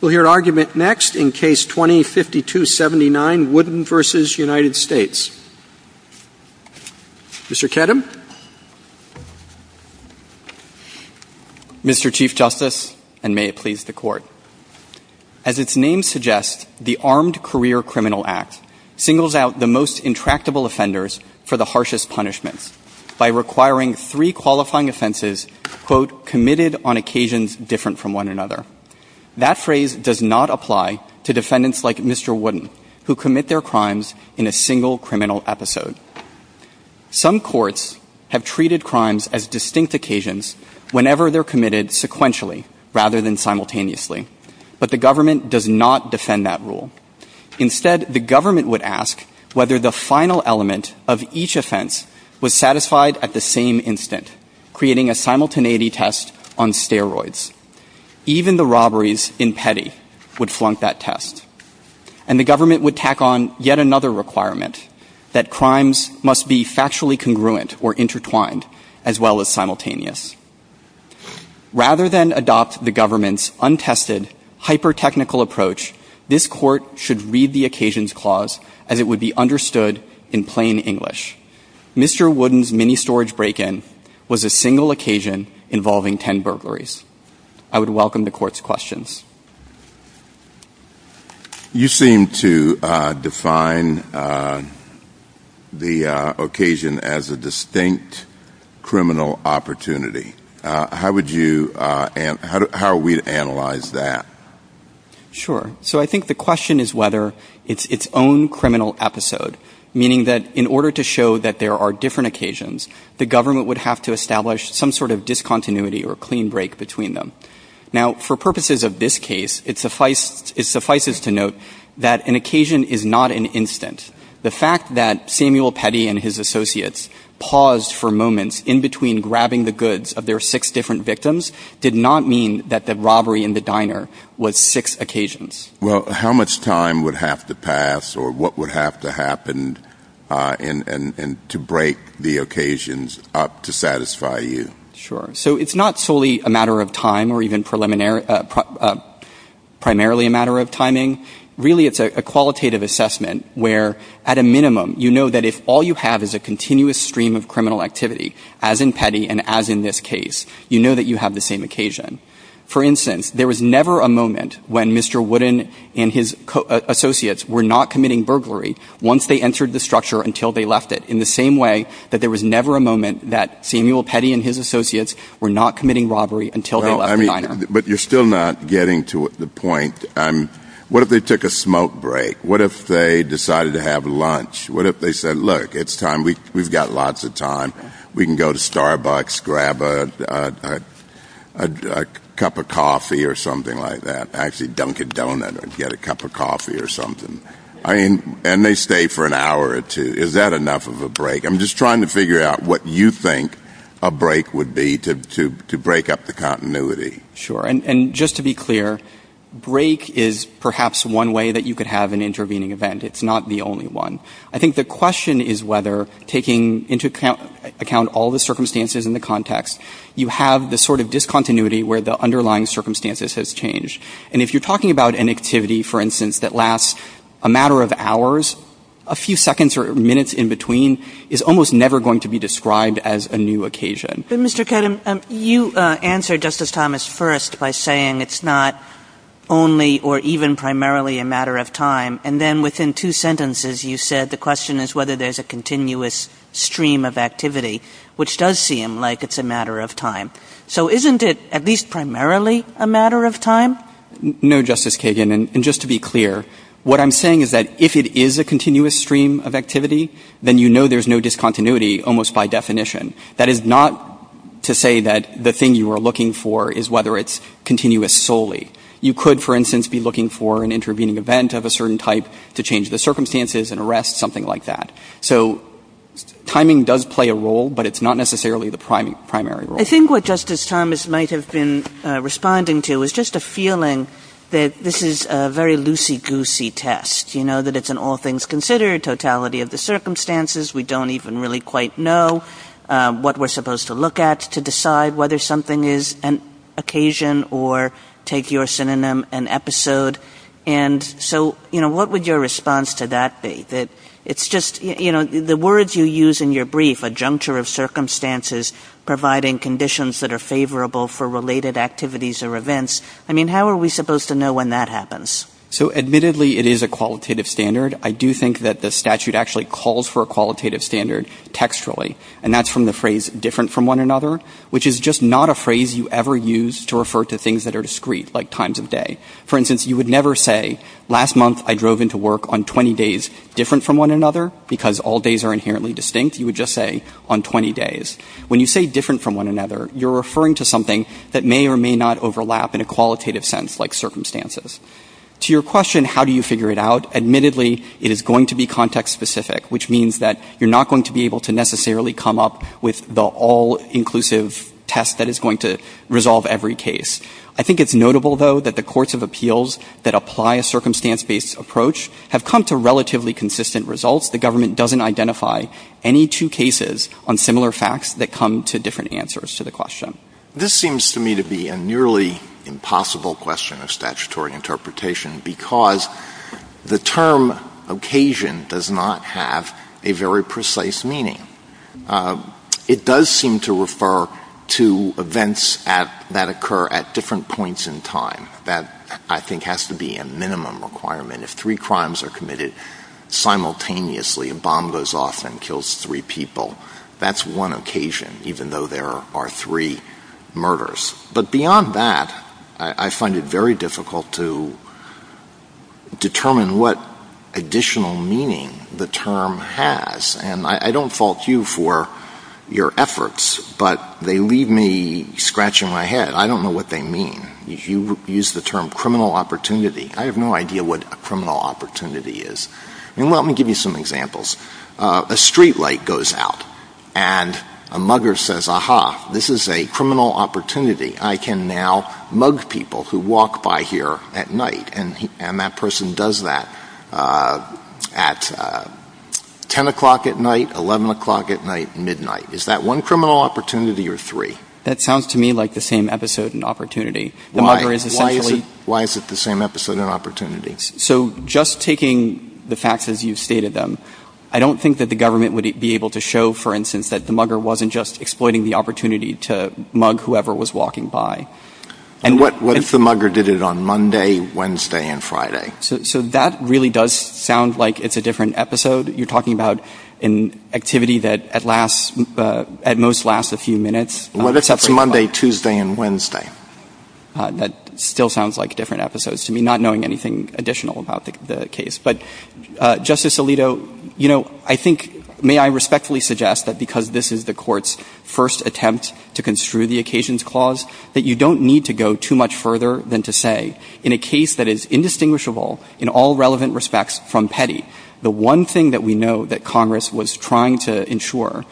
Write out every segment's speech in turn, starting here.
We'll hear argument next in Case 20-5279, Wooden v. United States. Mr. Kedem. Mr. Chief Justice, and may it please the Court, as its name suggests, the Armed Career Criminal Act singles out the most intractable offenders for the harshest punishments by requiring three qualifying offenses, quote, committed on occasions different from one another. That phrase does not apply to defendants like Mr. Wooden, who commit their crimes in a single criminal episode. Some courts have treated crimes as distinct occasions whenever they're committed sequentially rather than simultaneously, but the government does not defend that rule. Instead, the government would ask whether the final element of each offense was satisfied at the same instant, creating a simultaneity test on steroids. Even the robberies in petty would flunk that test. And the government would tack on yet another requirement, that crimes must be factually congruent or intertwined as well as simultaneous. Rather than adopt the government's untested, hyper-technical approach, this Court should read the occasions clause as it would be understood in plain English. Mr. Wooden's mini-storage break-in was a single occasion involving ten burglaries. I would welcome the Court's questions. You seem to define the occasion as a distinct criminal opportunity. How would you analyze that? Sure. So I think the question is whether it's its own criminal episode. Meaning that in order to show that there are different occasions, the government would have to establish some sort of discontinuity or clean break between them. Now, for purposes of this case, it suffices to note that an occasion is not an instant. The fact that Samuel Petty and his associates paused for moments in between grabbing the goods of their six different victims did not mean that the robbery in the diner was six occasions. Well, how much time would have to pass or what would have to happen to break the occasions up to satisfy you? Sure. So it's not solely a matter of time or even preliminary or primarily a matter of timing. Really, it's a qualitative assessment where at a minimum, you know that if all you have is a continuous stream of criminal activity, as in Petty and as in this case, you know that you have the same occasion. For instance, there was never a moment when Mr. Wooden and his associates were not committing burglary once they entered the structure until they left it, in the same way that there was never a moment that Samuel Petty and his associates were not committing robbery until they left the diner. But you're still not getting to the point. What if they took a smoke break? What if they decided to have lunch? What if they said, look, it's time. We've got lots of time. We can go to Starbucks, grab a cup of coffee or something like that. Actually, dunk a donut or get a cup of coffee or something. And they stay for an hour or two. Is that enough of a break? I'm just trying to figure out what you think a break would be to break up the continuity. Sure. And just to be clear, break is perhaps one way that you could have an intervening event. It's not the only one. I think the question is whether, taking into account all the circumstances in the context, you have the sort of discontinuity where the underlying circumstances has changed. And if you're talking about an activity, for instance, that lasts a matter of hours, a few seconds or minutes in between is almost never going to be described as a new occasion. But, Mr. Kedem, you answered, Justice Thomas, first by saying it's not only or even primarily a matter of time. And then within two sentences, you said the question is whether there's a continuous stream of activity, which does seem like it's a matter of time. So isn't it at least primarily a matter of time? No, Justice Kagan. And just to be clear, what I'm saying is that if it is a continuous stream of activity, then you know there's no discontinuity almost by definition. That is not to say that the thing you are looking for is whether it's continuous solely. You could, for instance, be looking for an intervening event of a certain type to change the circumstances and arrest something like that. So timing does play a role, but it's not necessarily the primary role. I think what Justice Thomas might have been responding to is just a feeling that this is a very loosey-goosey test, you know, that it's an all-things-considered totality of the circumstances. We don't even really quite know what we're supposed to look at to decide whether something is an occasion or, take your synonym, an episode. And so, you know, what would your response to that be? That it's just, you know, the words you use in your brief, a juncture of circumstances providing conditions that are favorable for related activities or events, I mean, how are we supposed to know when that happens? So admittedly, it is a qualitative standard. I do think that the statute actually calls for a qualitative standard textually, and that's from the phrase, different from one another, which is just not a phrase you ever use to refer to things that are discreet, like times of day. For instance, you would never say, last month I drove into work on 20 days different from one another, because all days are inherently distinct. You would just say, on 20 days. When you say different from one another, you're referring to something that may or may not overlap in a qualitative sense, like circumstances. To your question, how do you figure it out? Admittedly, it is going to be context-specific, which means that you're not going to be able to necessarily come up with the all-inclusive test that is going to resolve every case. I think it's notable, though, that the courts of appeals that apply a circumstance-based approach have come to relatively consistent results. The government doesn't identify any two cases on similar facts that come to different answers to the question. Alito This seems to me to be a nearly impossible question of statutory interpretation, because the term occasion does not have a very precise meaning. It does seem to refer to events that occur at different points in time. That, I think, has to be a minimum requirement. If three crimes are committed simultaneously, a bomb goes off and kills three people, that's one occasion, even though there are three murders. But beyond that, I find it very difficult to determine what additional meaning the I don't fault you for your efforts, but they leave me scratching my head. I don't know what they mean. You use the term criminal opportunity. I have no idea what a criminal opportunity is. Let me give you some examples. A streetlight goes out, and a mugger says, aha, this is a criminal opportunity. I can now mug people who walk by here at night. And that person does that at 10 o'clock at night, 11 o'clock at night, midnight. Is that one criminal opportunity or three? That sounds to me like the same episode and opportunity. The mugger is essentially Why is it the same episode and opportunity? So just taking the facts as you've stated them, I don't think that the government would be able to show, for instance, that the mugger wasn't just exploiting the opportunity to mug whoever was walking by. And what if the mugger did it on Monday, Wednesday, and Friday? So that really does sound like it's a different episode. You're talking about an activity that at last, at most lasts a few minutes. What if it's Monday, Tuesday, and Wednesday? That still sounds like different episodes to me, not knowing anything additional about the case. But, Justice Alito, you know, I think, may I respectfully suggest that because this is the Court's first attempt to construe the occasions clause, that you don't need to go too much further than to say, in a case that is indistinguishable in all relevant respects from Petty, the one thing that we know that Congress was trying to ensure,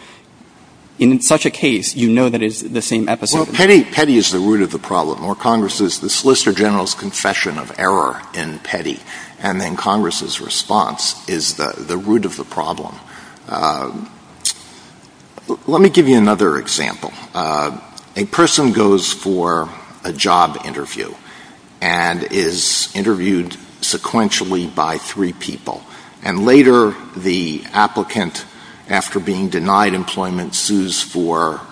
in such a case, you know that it's the same episode. Well, Petty is the root of the problem, or Congress's, the Solicitor General's error in Petty, and then Congress's response is the root of the problem. Let me give you another example. A person goes for a job interview and is interviewed sequentially by three people, and later the applicant, after being denied employment, sues for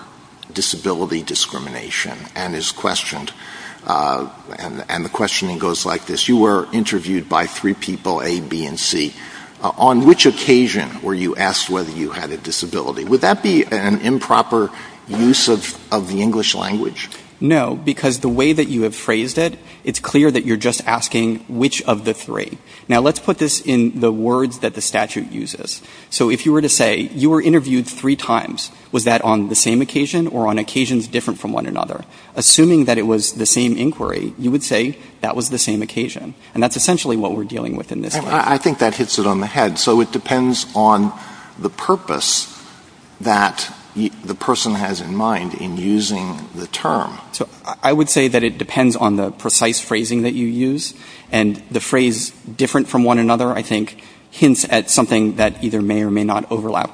disability discrimination and is questioned. And the questioning goes like this. You were interviewed by three people, A, B, and C. On which occasion were you asked whether you had a disability? Would that be an improper use of the English language? No, because the way that you have phrased it, it's clear that you're just asking which of the three. Now, let's put this in the words that the statute uses. So if you were to say, you were interviewed three times. Was that on the same occasion or on occasions different from one another? Assuming that it was the same inquiry, you would say that was the same occasion. And that's essentially what we're dealing with in this case. I think that hits it on the head. So it depends on the purpose that the person has in mind in using the term. I would say that it depends on the precise phrasing that you use, and the phrase different from one another, I think, hints at something that either may or may not be true. The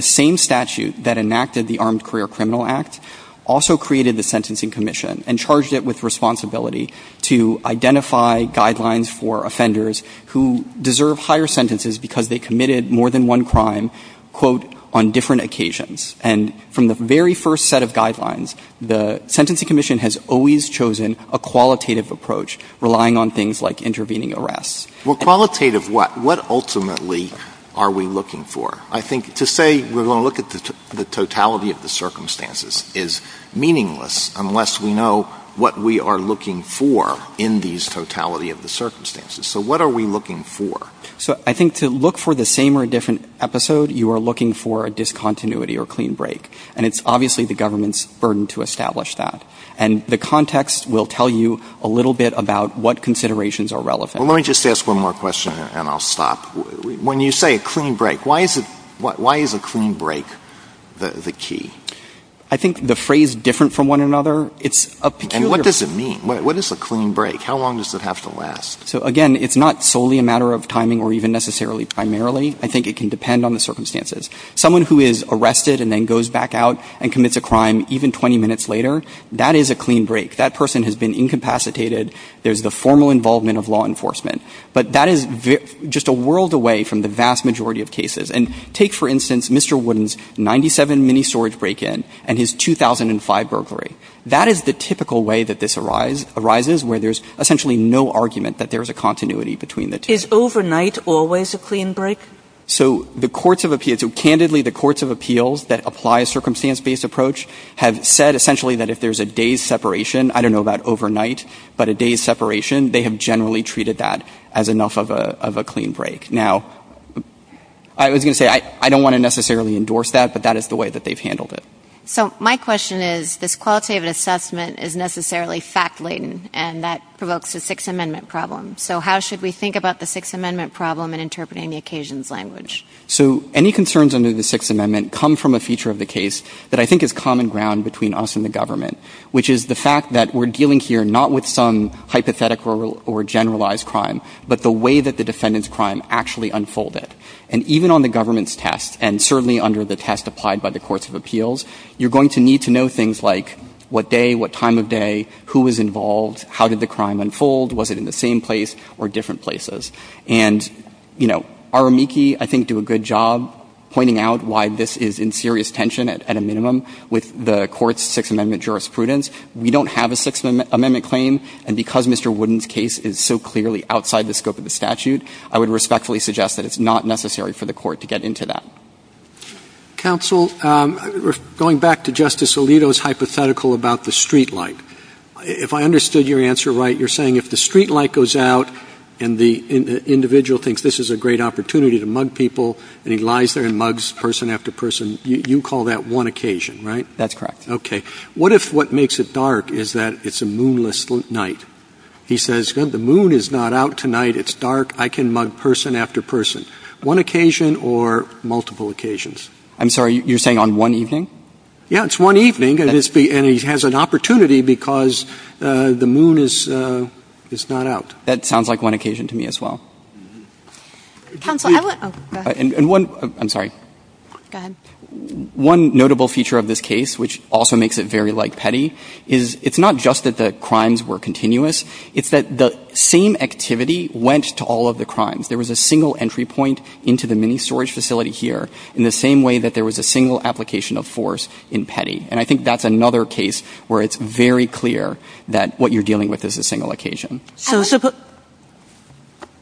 same statute that enacted the Armed Career Criminal Act also created the Sentencing Commission and charged it with responsibility to identify guidelines for offenders who deserve higher sentences because they committed more than one crime, quote, on different occasions. And from the very first set of guidelines, the Sentencing Commission has always chosen a qualitative approach, relying on things like intervening arrests. Well, qualitative what? What ultimately are we looking for? I think to say we're going to look at the totality of the circumstances is meaningless unless we know what we are looking for in these totality of the circumstances. So what are we looking for? So I think to look for the same or different episode, you are looking for a discontinuity or clean break, and it's obviously the government's burden to establish that. And the context will tell you a little bit about what considerations are relevant. Well, let me just ask one more question and I'll stop. When you say a clean break, why is a clean break the key? I think the phrase different from one another, it's a peculiar... And what does it mean? What is a clean break? How long does it have to last? So, again, it's not solely a matter of timing or even necessarily primarily. I think it can depend on the circumstances. Someone who is arrested and then goes back out and commits a crime even 20 minutes later, that is a clean break. That person has been incapacitated. There's the formal involvement of law enforcement. But that is just a world away from the vast majority of cases. And take, for instance, Mr. Wooden's 97 mini storage break-in and his 2005 burglary. That is the typical way that this arises where there's essentially no argument that there's a continuity between the two. Is overnight always a clean break? So the courts of appeals, so candidly the courts of appeals that apply a circumstance-based approach have said essentially that if there's a day's separation, I don't know about overnight, but a day's separation, they have generally treated that as enough of a clean break. Now, I was going to say I don't want to necessarily endorse that, but that is the way that they've handled it. So my question is this qualitative assessment is necessarily fact-laden, and that provokes a Sixth Amendment problem. So how should we think about the Sixth Amendment problem in interpreting the occasions language? So any concerns under the Sixth Amendment come from a feature of the case that I think is common ground between us and the government, which is the fact that we're dealing here not with some hypothetical or generalized crime, but the way that the defendant's crime actually unfolded. And even on the government's test, and certainly under the test applied by the courts of appeals, you're going to need to know things like what day, what time of day, who was involved, how did the crime unfold, was it in the same place or different places. And, you know, our amici I think do a good job pointing out why this is in serious tension at a minimum with the Court's Sixth Amendment jurisprudence. We don't have a Sixth Amendment claim, and because Mr. Wooden's case is so clearly outside the scope of the statute, I would respectfully suggest that it's not necessarily for the Court to get into that. Roberts. Counsel, going back to Justice Alito's hypothetical about the streetlight, if I understood your answer right, you're saying if the streetlight goes out and the individual thinks this is a great opportunity to mug people and he lies there and mugs person after person, you call that one occasion, right? That's correct. Okay. What if what makes it dark is that it's a moonless night? He says, good, the moon is not out tonight. It's dark. I can mug person after person. One occasion or multiple occasions? I'm sorry. You're saying on one evening? Yeah. It's one evening, and he has an opportunity because the moon is not out. That sounds like one occasion to me as well. Counsel, I want to go ahead. I'm sorry. Go ahead. One notable feature of this case, which also makes it very light petty, is it's not just that the crimes were continuous, it's that the same activity went to all of the crimes. There was a single entry point into the mini storage facility here in the same way that there was a single application of force in petty. And I think that's another case where it's very clear that what you're dealing with is a single occasion.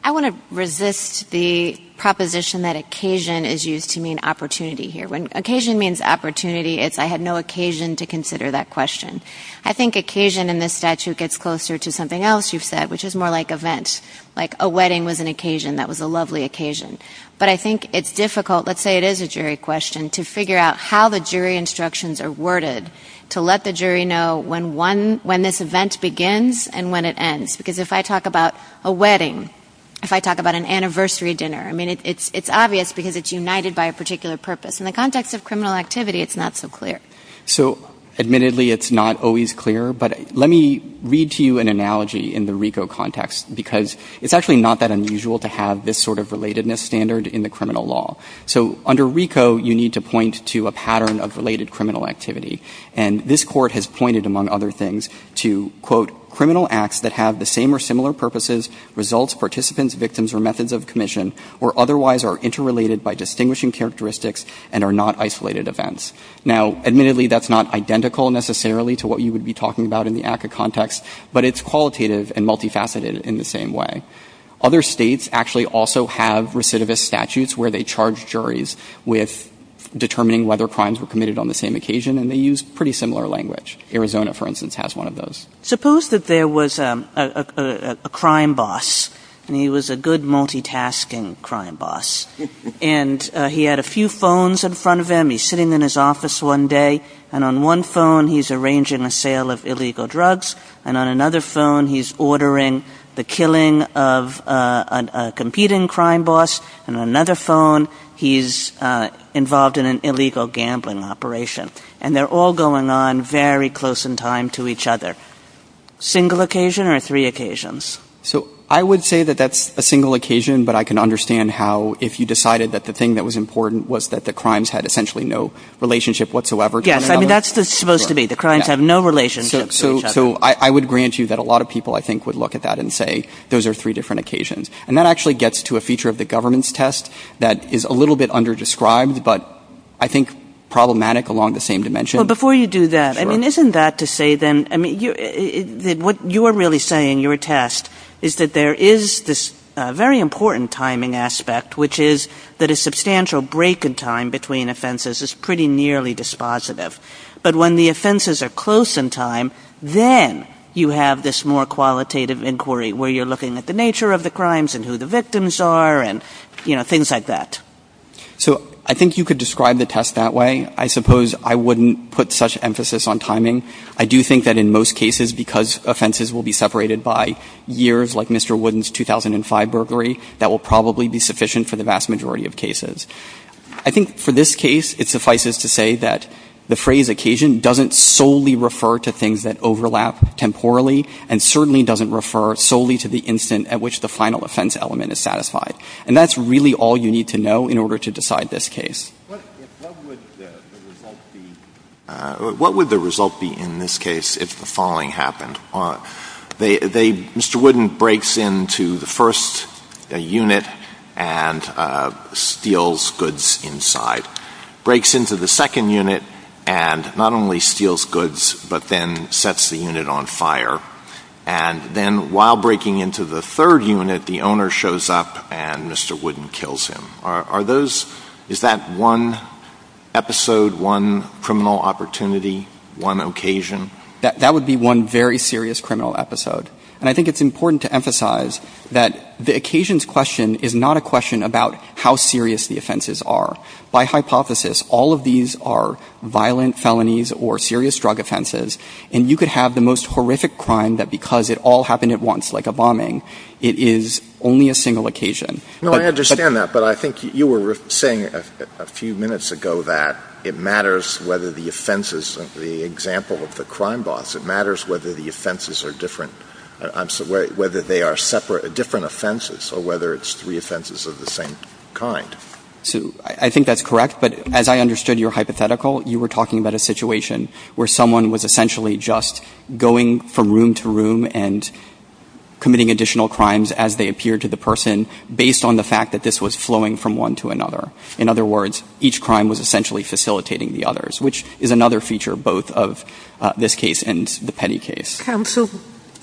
I want to resist the proposition that occasion is used to mean opportunity here. When occasion means opportunity, it's I had no occasion to consider that question. I think occasion in this statute gets closer to something else you've said, which is more like event. Like a wedding was an occasion that was a lovely occasion. But I think it's difficult, let's say it is a jury question, to figure out how the jury instructions are worded to let the jury know when this event begins and when it ends. Because if I talk about a wedding, if I talk about an anniversary dinner, I mean, it's obvious because it's united by a particular purpose. In the context of criminal activity, it's not so clear. So admittedly, it's not always clear. But let me read to you an analogy in the RICO context, because it's actually not that unusual to have this sort of relatedness standard in the criminal law. So under RICO, you need to point to a pattern of related criminal activity. And this Court has pointed, among other things, to, quote, criminal acts that have the same or similar purposes, results, participants, victims, or methods of commission, or otherwise are interrelated by distinguishing characteristics and are not isolated events. Now, admittedly, that's not identical necessarily to what you would be talking about in the ACCA context, but it's qualitative and multifaceted in the same way. Other states actually also have recidivist statutes where they charge juries with determining whether crimes were committed on the same occasion, and they use pretty similar language. Arizona, for instance, has one of those. Suppose that there was a crime boss, and he was a good multitasking crime boss. And he had a few phones in front of him. He's sitting in his office one day, and on one phone, he's arranging a sale of illegal drugs. And on another phone, he's ordering the killing of a competing crime boss. And on another phone, he's involved in an illegal gambling operation. And they're all going on very close in time to each other. Single occasion or three occasions? So I would say that that's a single occasion, but I can understand how if you decided that the thing that was important was that the crimes had essentially no relationship whatsoever to one another. Yes. I mean, that's what it's supposed to be. The crimes have no relationship to each other. So I would grant you that a lot of people, I think, would look at that and say, those are three different occasions. And that actually gets to a feature of the government's test that is a little bit underdescribed, but I think problematic along the same dimension. Well, before you do that, I mean, isn't that to say then, I mean, what you're really saying, your test, is that there is this very important timing aspect, which is that a substantial break in time between offenses is pretty nearly dispositive. But when the offenses are close in time, then you have this more qualitative inquiry where you're looking at the nature of the crimes and who the victims are and, you know, things like that. So I think you could describe the test that way. I suppose I wouldn't put such emphasis on timing. I do think that in most cases, because offenses will be separated by years like Mr. Wooden's 2005 burglary, that will probably be sufficient for the vast majority of cases. I think for this case, it suffices to say that the phrase occasion doesn't solely refer to things that overlap temporally and certainly doesn't refer solely to the instant at which the final offense element is satisfied. And that's really all you need to know in order to decide this case. What would the result be in this case if the falling happened? Mr. Wooden breaks into the first unit and steals goods inside. Breaks into the second unit and not only steals goods, but then sets the unit on fire. And then while breaking into the third unit, the owner shows up and Mr. Wooden kills him. Is that one episode, one criminal opportunity, one occasion? That would be one very serious criminal episode. And I think it's important to emphasize that the occasions question is not a question about how serious the offenses are. By hypothesis, all of these are violent felonies or serious drug offenses. And you could have the most horrific crime that because it all happened at once, like a bombing, it is only a single occasion. No, I understand that. But I think you were saying a few minutes ago that it matters whether the offenses of the example of the crime boss, it matters whether the offenses are different or whether they are separate or different offenses or whether it's three offenses of the same kind. So I think that's correct. But as I understood your hypothetical, you were talking about a situation where someone was essentially just going from room to room and committing additional crimes as they appeared to the person based on the fact that this was flowing from one to another. In other words, each crime was essentially facilitating the others, which is another feature both of this case and the Petty case. Counsel,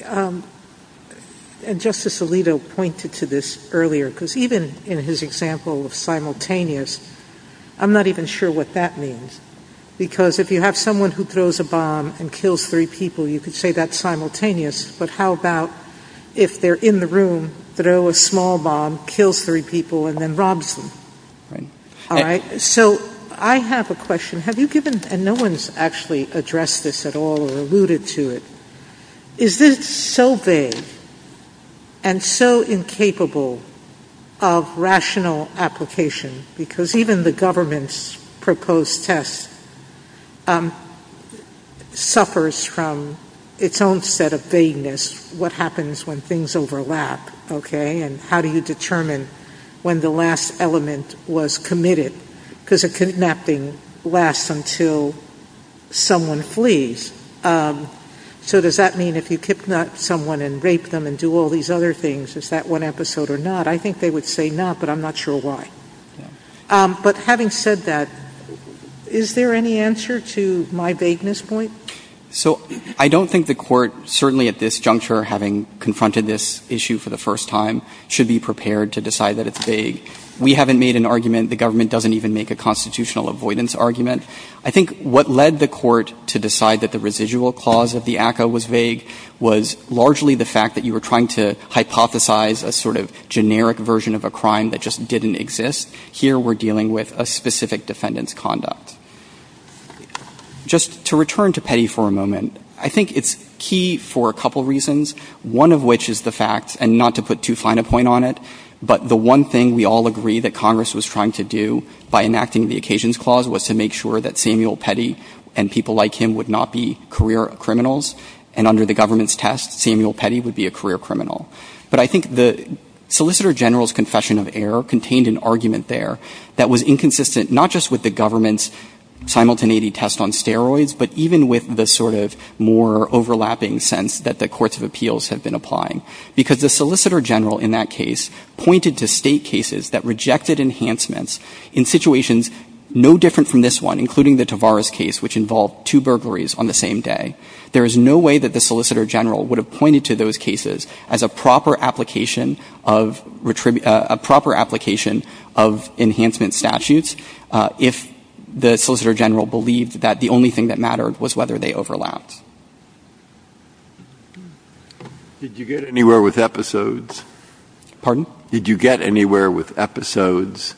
and Justice Alito pointed to this earlier, because even in his example of simultaneous, I'm not even sure what that means. Because if you have someone who throws a bomb and kills three people, you could say that's simultaneous. But how about if they're in the room, throw a small bomb, kills three people, and then robs them? Right. All right? So I have a question. Have you given, and no one's actually addressed this at all or alluded to it, is this so vague and so incapable of rational application? Because even the government's proposed test suffers from its own set of vagueness, what happens when things overlap, okay? And how do you determine when the last element was committed? Because a kidnapping lasts until someone flees. So does that mean if you kidnap someone and rape them and do all these other things, is that one episode or not? I think they would say not, but I'm not sure why. But having said that, is there any answer to my vagueness point? So I don't think the Court, certainly at this juncture, having confronted this issue for the first time, should be prepared to decide that it's vague. We haven't made an argument. The government doesn't even make a constitutional avoidance argument. I think what led the Court to decide that the residual clause of the ACCA was vague was largely the fact that you were trying to hypothesize a sort of generic version of a crime that just didn't exist. Here we're dealing with a specific defendant's conduct. Just to return to Petty for a moment, I think it's key for a couple reasons, one of which is the fact, and not to put too fine a point on it, but the one thing we all agree that Congress was trying to do by enacting the Occasions Clause was to make sure that Samuel Petty and people like him would not be career criminals, and under the government's test, Samuel Petty would be a career criminal. But I think the Solicitor General's confession of error contained an argument there that was inconsistent, not just with the government's simultaneity test on steroids, but even with the sort of more overlapping sense that the Courts of Appeals have been applying. Because the Solicitor General in that case pointed to State cases that rejected enhancements in situations no different from this one, including the Tavares case, which involved two burglaries on the same day. There is no way that the Solicitor General would have pointed to those cases as a proper application of enhancement statutes if the Solicitor General believed that the only thing that mattered was whether they overlapped. Did you get anywhere with episodes? Pardon? Did you get anywhere with episodes?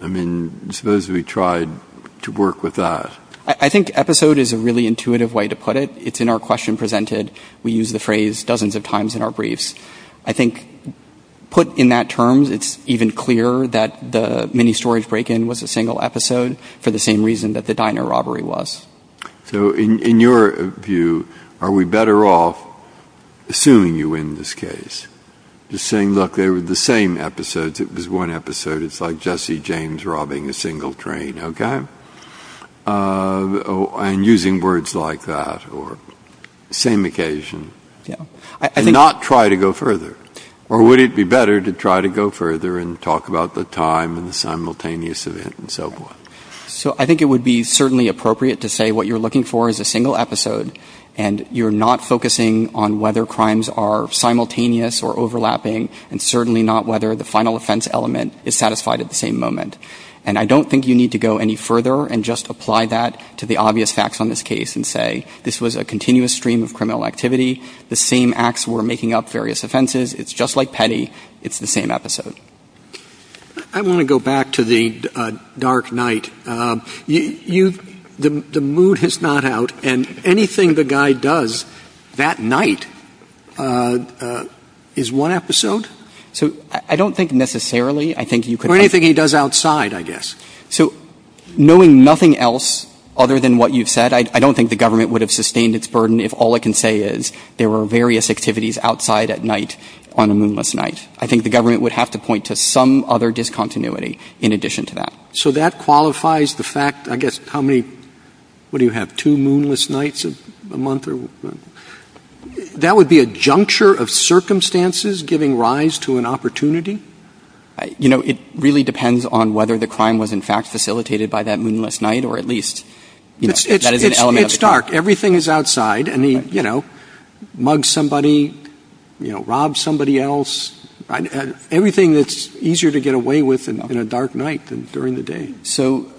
I mean, suppose we tried to work with that. I think episode is a really intuitive way to put it. It's in our question presented. We use the phrase dozens of times in our briefs. I think put in that terms, it's even clearer that the mini-storage break-in was a single episode for the same reason that the diner robbery was. So in your view, are we better off assuming you win this case? Just saying, look, they were the same episodes. It was one episode. It's like Jesse James robbing a single train, okay? And using words like that or same occasion. Yeah. And not try to go further. Or would it be better to try to go further and talk about the time and the simultaneous event and so forth? So I think it would be certainly appropriate to say what you're looking for is a single episode, and you're not focusing on whether crimes are simultaneous or overlapping and certainly not whether the final offense element is satisfied at the same moment. And I don't think you need to go any further and just apply that to the obvious facts on this case and say this was a continuous stream of criminal activity. The same acts were making up various offenses. It's just like petty. It's the same episode. I want to go back to the dark night. The mood is not out. And anything the guy does that night is one episode? I don't think necessarily. Or anything he does outside, I guess. So knowing nothing else other than what you've said, I don't think the government would have sustained its burden if all it can say is there were various activities outside at night on a moonless night. I think the government would have to point to some other discontinuity in addition to that. So that qualifies the fact, I guess, how many, what do you have, two moonless nights a month? That would be a juncture of circumstances giving rise to an opportunity? You know, it really depends on whether the crime was in fact facilitated by that moonless night or at least, you know, that is an element of the crime. It's dark. Everything is outside. And he, you know, mugs somebody, you know, robs somebody else. Everything that's easier to get away with in a dark night than during the day. So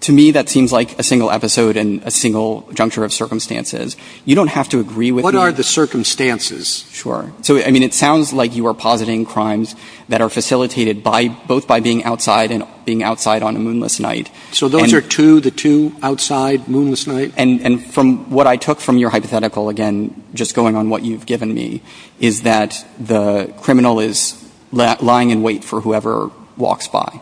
to me, that seems like a single episode and a single juncture of circumstances. You don't have to agree with me. What are the circumstances? Sure. So, I mean, it sounds like you are positing crimes that are facilitated both by being outside and being outside on a moonless night. So those are two, the two outside, moonless night? And from what I took from your hypothetical, again, just going on what you've given me, is that the criminal is lying in wait for whoever walks by.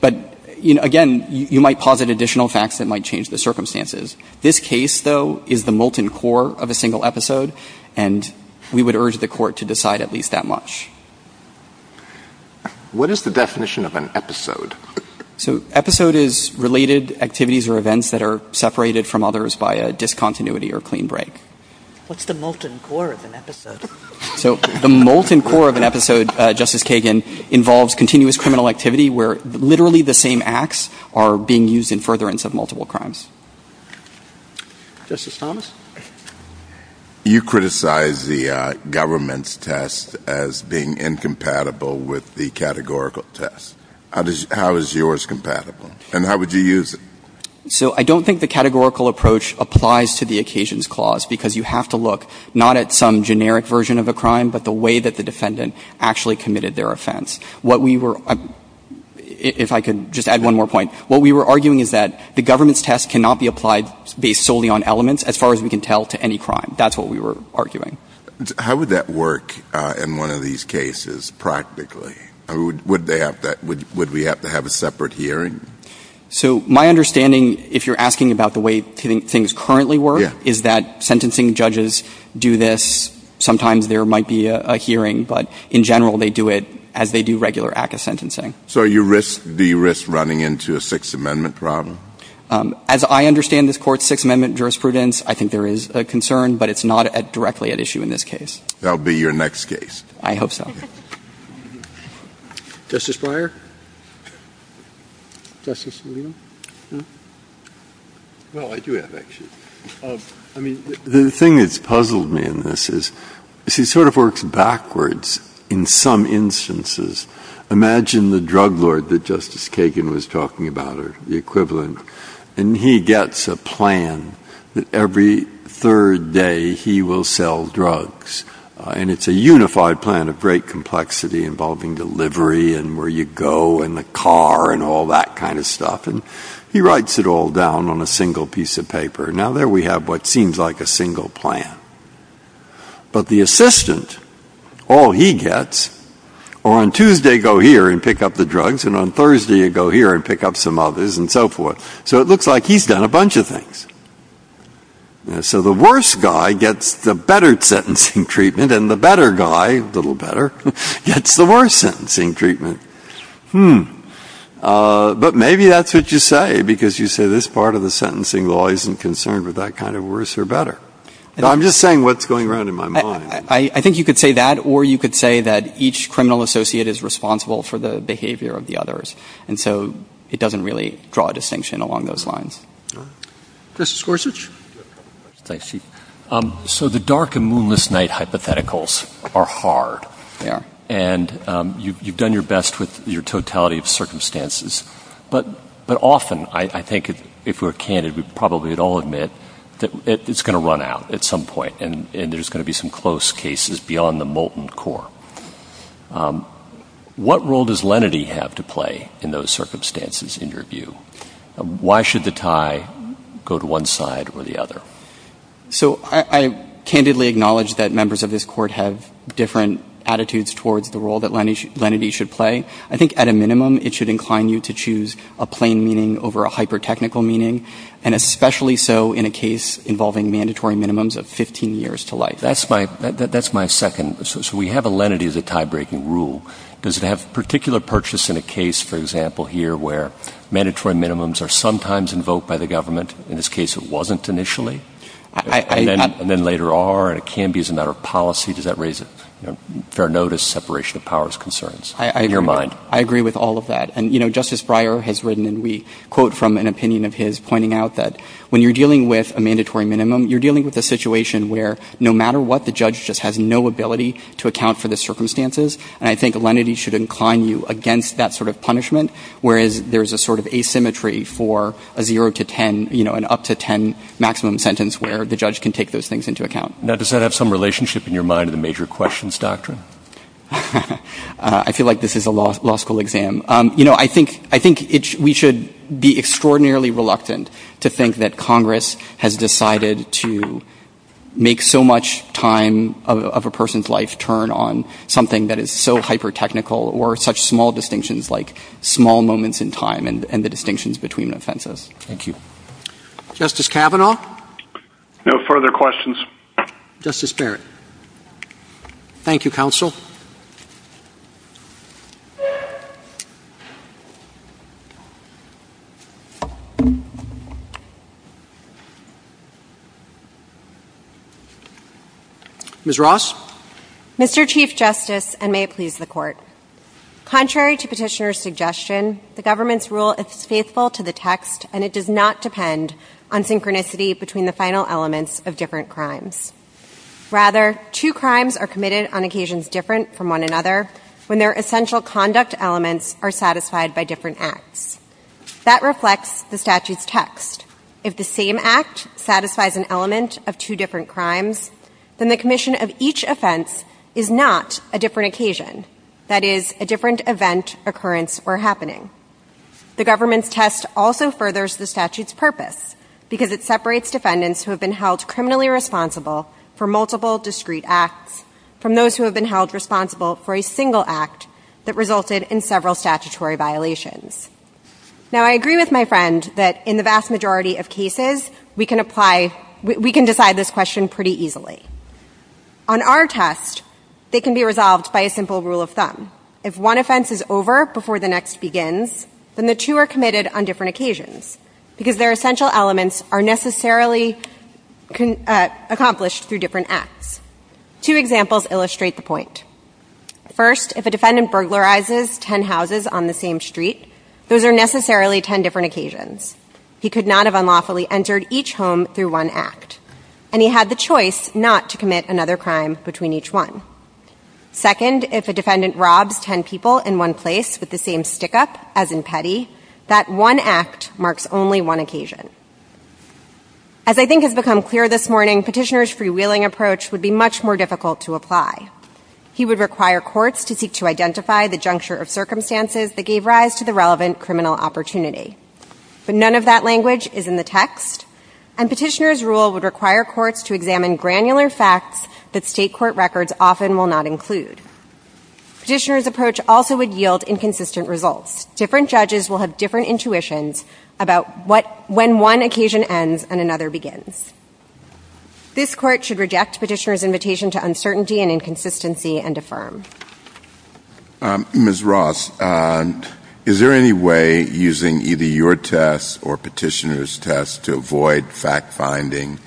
But, you know, again, you might posit additional facts that might change the circumstances. This case, though, is the molten core of a single episode. And we would urge the court to decide at least that much. What is the definition of an episode? So episode is related activities or events that are separated from others by a discontinuity or clean break. What's the molten core of an episode? So the molten core of an episode, Justice Kagan, involves continuous criminal activity where literally the same acts are being used in furtherance of multiple crimes. Justice Thomas? You criticize the government's test as being incompatible with the categorical test. How is yours compatible? And how would you use it? So I don't think the categorical approach applies to the occasions clause, because you have to look not at some generic version of a crime, but the way that the defendant actually committed their offense. What we were — if I could just add one more point. What we were arguing is that the government's test cannot be applied based solely on elements as far as we can tell to any crime. That's what we were arguing. How would that work in one of these cases practically? Would they have to — would we have to have a separate hearing? So my understanding, if you're asking about the way things currently work, is that sentencing judges do this. Sometimes there might be a hearing, but in general they do it as they do regular ACCA sentencing. So you risk — do you risk running into a Sixth Amendment problem? As I understand this Court's Sixth Amendment jurisprudence, I think there is a concern, but it's not directly at issue in this case. That will be your next case. I hope so. Justice Breyer? Justice Alito? Well, I do have, actually. I mean, the thing that's puzzled me in this is it sort of works backwards in some instances. Imagine the drug lord that Justice Kagan was talking about, or the equivalent, and he gets a plan that every third day he will sell drugs, and it's a unified plan of great complexity involving delivery and where you go and the car and all that kind of stuff. And he writes it all down on a single piece of paper. Now, there we have what seems like a single plan. But the assistant, all he gets — or on Tuesday go here and pick up the drugs, and on Thursday you go here and pick up some others and so forth. So it looks like he's done a bunch of things. So the worst guy gets the better sentencing treatment, and the better guy, a little better, gets the worse sentencing treatment. Hmm. But maybe that's what you say, because you say this part of the sentencing law isn't concerned with that kind of worse or better. I'm just saying what's going around in my mind. I think you could say that, or you could say that each criminal associate is responsible for the behavior of the others. And so it doesn't really draw a distinction along those lines. All right. Justice Gorsuch. Thanks, Chief. So the dark and moonless night hypotheticals are hard. They are. And you've done your best with your totality of circumstances. But often, I think, if we're candid, we probably would all admit that it's going to run out at some point, and there's going to be some close cases beyond the molten core. What role does lenity have to play in those circumstances, in your view? Why should the tie go to one side or the other? So I candidly acknowledge that members of this Court have different attitudes towards the role that lenity should play. I think at a minimum, it should incline you to choose a plain meaning over a hypertechnical meaning, and especially so in a case involving mandatory minimums of 15 years to life. That's my second. So we have a lenity as a tie-breaking rule. Does it have particular purchase in a case, for example, here where mandatory minimums are sometimes invoked by the government? In this case, it wasn't initially. And then later are, and it can be as a matter of policy. Does that raise fair notice, separation of powers concerns in your mind? I agree. I agree with all of that. And, you know, Justice Breyer has written, and we quote from an opinion of his pointing out that when you're dealing with a mandatory minimum, you're dealing with a situation where no matter what, the judge just has no ability to account for the circumstances. And I think lenity should incline you against that sort of punishment, whereas there's a sort of asymmetry for a zero to ten, you know, an up to ten maximum sentence where the judge can take those things into account. Now, does that have some relationship in your mind to the major questions doctrine? I feel like this is a law school exam. You know, I think we should be extraordinarily reluctant to think that Congress has decided to make so much time of a person's life turn on something that is so hypertechnical or such small distinctions like small moments in time and the distinctions between offenses. Thank you. Justice Kavanaugh. No further questions. Justice Barrett. Thank you, counsel. Ms. Ross. Mr. Chief Justice, and may it please the Court. Contrary to petitioner's suggestion, the government's rule is faithful to the text and it does not depend on synchronicity between the final elements of different crimes. Rather, two crimes are committed on occasions different from one another when their essential conduct elements are satisfied by different acts. That reflects the statute's text. If the same act satisfies an element of two different crimes, then the commission of each offense is not a different occasion. That is, a different event, occurrence, or happening. The government's test also furthers the statute's purpose because it separates defendants who have been held criminally responsible for multiple discrete acts from those who have been held responsible for a single act that resulted in several statutory violations. Now, I agree with my friend that in the vast majority of cases, we can decide this question pretty easily. On our test, they can be resolved by a simple rule of thumb. If one offense is over before the next begins, then the two are committed on different occasions because their essential elements are necessarily accomplished through different acts. Two examples illustrate the point. First, if a defendant burglarizes ten houses on the same street, those are necessarily ten different occasions. He could not have unlawfully entered each home through one act. And he had the choice not to commit another crime between each one. Second, if a defendant robs ten people in one place with the same stick-up as in petty, that one act marks only one occasion. As I think has become clear this morning, petitioner's freewheeling approach would be much more difficult to apply. He would require courts to seek to identify the juncture of circumstances that gave rise to the relevant criminal opportunity. But none of that language is in the text. And petitioner's rule would require courts to examine granular facts that state court records often will not include. Petitioner's approach also would yield inconsistent results. Different judges will have different intuitions about when one occasion ends and another begins. This Court should reject petitioner's invitation to uncertainty and inconsistency and affirm. Ms. Ross, is there any way using either your test or petitioner's test to avoid fact-finding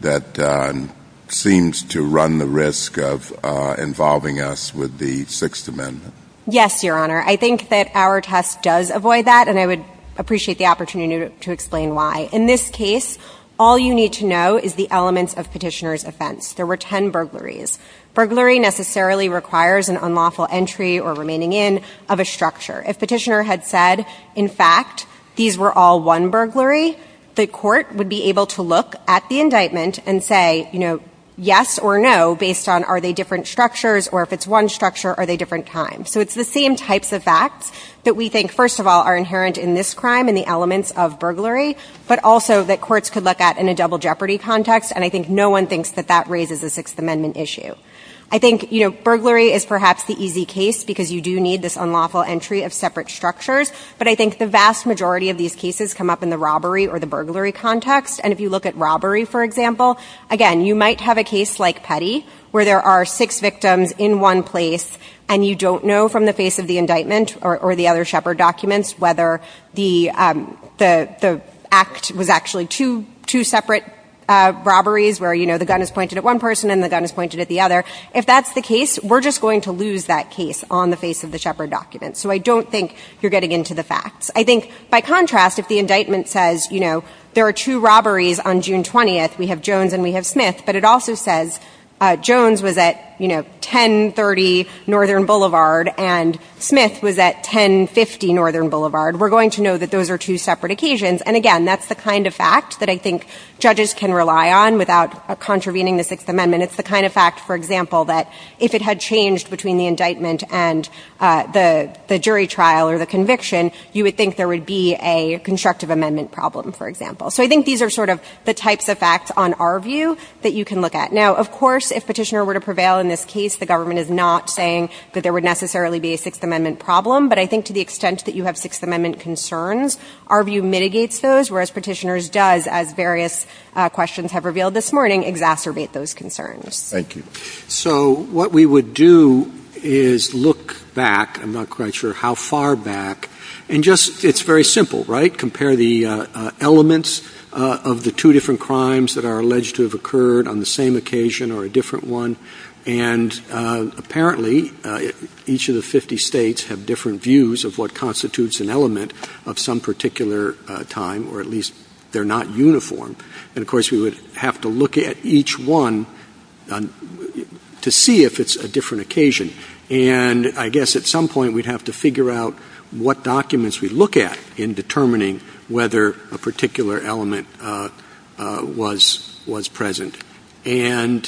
that seems to run the risk of involving us with the Sixth Amendment? Yes, Your Honor. I think that our test does avoid that, and I would appreciate the opportunity to explain why. In this case, all you need to know is the elements of petitioner's offense. There were ten burglaries. Burglary necessarily requires an unlawful entry or remaining in of a structure. If petitioner had said, in fact, these were all one burglary, the court would be able to look at the indictment and say, you know, yes or no, based on are they different structures, or if it's one structure, are they different times. So it's the same types of facts that we think, first of all, are inherent in this crime and the elements of burglary, but also that courts could look at in a double jeopardy context. And I think no one thinks that that raises a Sixth Amendment issue. I think, you know, burglary is perhaps the easy case because you do need this unlawful entry of separate structures, but I think the vast majority of these cases come up in the robbery or the burglary context. And if you look at robbery, for example, again, you might have a case like Petty where there are six victims in one place, and you don't know from the face of the indictment or the other Shepard documents whether the act was actually two separate robberies where, you know, the gun is pointed at one person and the gun is pointed at the other. If that's the case, we're just going to lose that case on the face of the Shepard documents. So I don't think you're getting into the facts. I think, by contrast, if the indictment says, you know, there are two robberies on June 20th, we have Jones and we have Smith, but it also says Jones was at, you know, 1030 Northern Boulevard and Smith was at 1050 Northern Boulevard, we're going to know that those are two separate occasions. And again, that's the kind of fact that I think judges can rely on without contravening the Sixth Amendment. It's the kind of fact, for example, that if it had changed between the indictment and the jury trial or the conviction, you would think there would be a constructive amendment problem, for example. So I think these are sort of the types of facts on our view that you can look at. Now, of course, if Petitioner were to prevail in this case, the government is not saying that there would necessarily be a Sixth Amendment problem, but I think to the extent that there is a Sixth Amendment problem, there is a problem that we can solve by choosing to replace those, whereas Petitioner's does, as various questions have revealed this morning, exacerbate those concerns. So what we would do is look back. I'm not quite sure how far back. And just ‑‑ it's very simple, right? Compare the elements of the two different crimes that are alleged to have occurred on the same occasion or a different one. And apparently, each of the 50 states have different views of what constitutes an element of some particular time, or at least they're not uniform. And, of course, we would have to look at each one to see if it's a different occasion. And I guess at some point we'd have to figure out what documents we look at in determining whether a particular element was present. And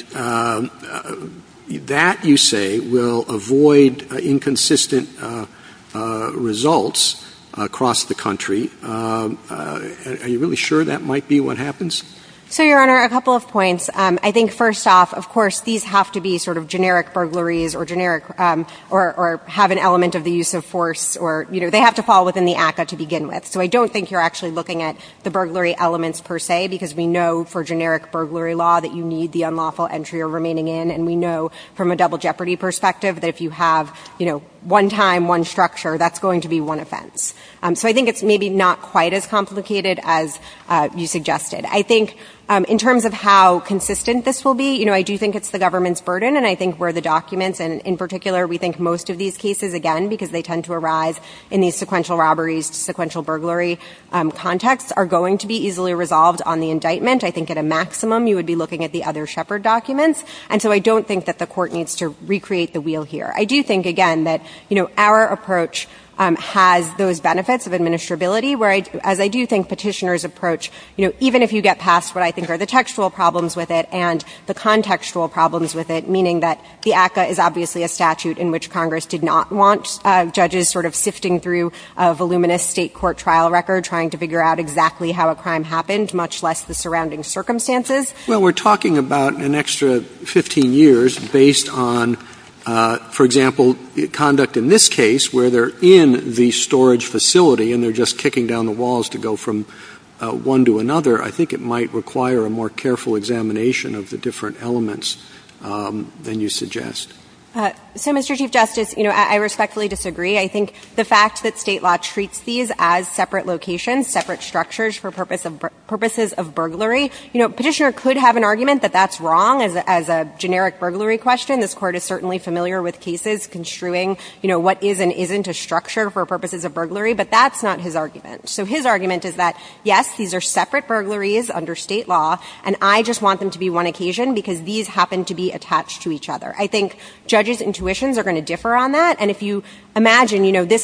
that, you say, will avoid inconsistent results across the country. Are you really sure that might be what happens? So, Your Honor, a couple of points. I think first off, of course, these have to be sort of generic burglaries or generic ‑‑ or have an element of the use of force or, you know, they have to fall within the ACCA to begin with. So I don't think you're actually looking at the burglary elements per se, because we know for generic burglary law that you need the unlawful entry or remaining in, and we know from a double jeopardy perspective that if you have, you know, one time, one structure, that's going to be one offense. So I think it's maybe not quite as complicated as you suggested. I think in terms of how consistent this will be, you know, I do think it's the government's burden, and I think where the documents, and in particular we think most of these cases, again, because they tend to arise in these sequential robberies, sequential burglary contexts, are going to be easily resolved on the indictment. I think at a maximum you would be looking at the other Shepard documents. And so I don't think that the Court needs to recreate the wheel here. I do think, again, that, you know, our approach has those benefits of administrability where, as I do think petitioners approach, you know, even if you get past what I think are the textual problems with it and the contextual problems with it, meaning that the ACCA is obviously a statute in which Congress did not want judges sort of sifting through a voluminous State court trial record trying to figure out exactly how a crime happened, much less the surrounding circumstances. Well, we're talking about an extra 15 years based on, for example, conduct in this case where they're in the storage facility and they're just kicking down the walls to go from one to another. I think it might require a more careful examination of the different elements than you suggest. So, Mr. Chief Justice, you know, I respectfully disagree. I think the fact that State law treats these as separate locations, separate structures for purposes of burglary, you know, petitioner could have an argument that that's wrong as a generic burglary question. This Court is certainly familiar with cases construing, you know, what is and isn't a structure for purposes of burglary, but that's not his argument. So his argument is that, yes, these are separate burglaries under State law, and I just want them to be one occasion because these happen to be attached to each I think judges' intuitions are going to differ on that. And if you imagine, you know, this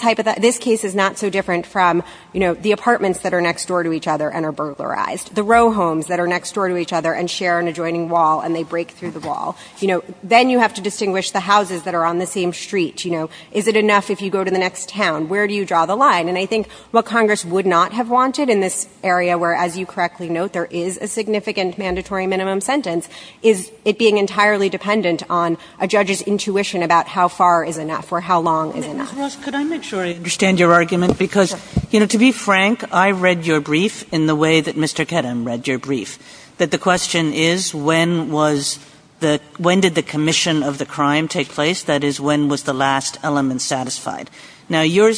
case is not so different from, you know, the apartments that are next door to each other and are burglarized, the row homes that are next door to each other and share an adjoining wall and they break through the wall, you know, then you have to distinguish the houses that are on the same street, you know. Is it enough if you go to the next town? Where do you draw the line? And I think what Congress would not have wanted in this area where, as you correctly note, there is a significant mandatory minimum sentence is it being entirely dependent on a judge's intuition about how far is enough or how long is enough. Kagan. Ms. Ross, could I make sure I understand your argument? Because, you know, to be frank, I read your brief in the way that Mr. Kedem read your brief, that the question is when was the – when did the commission of the crime take place? That is, when was the last element satisfied? Now, you're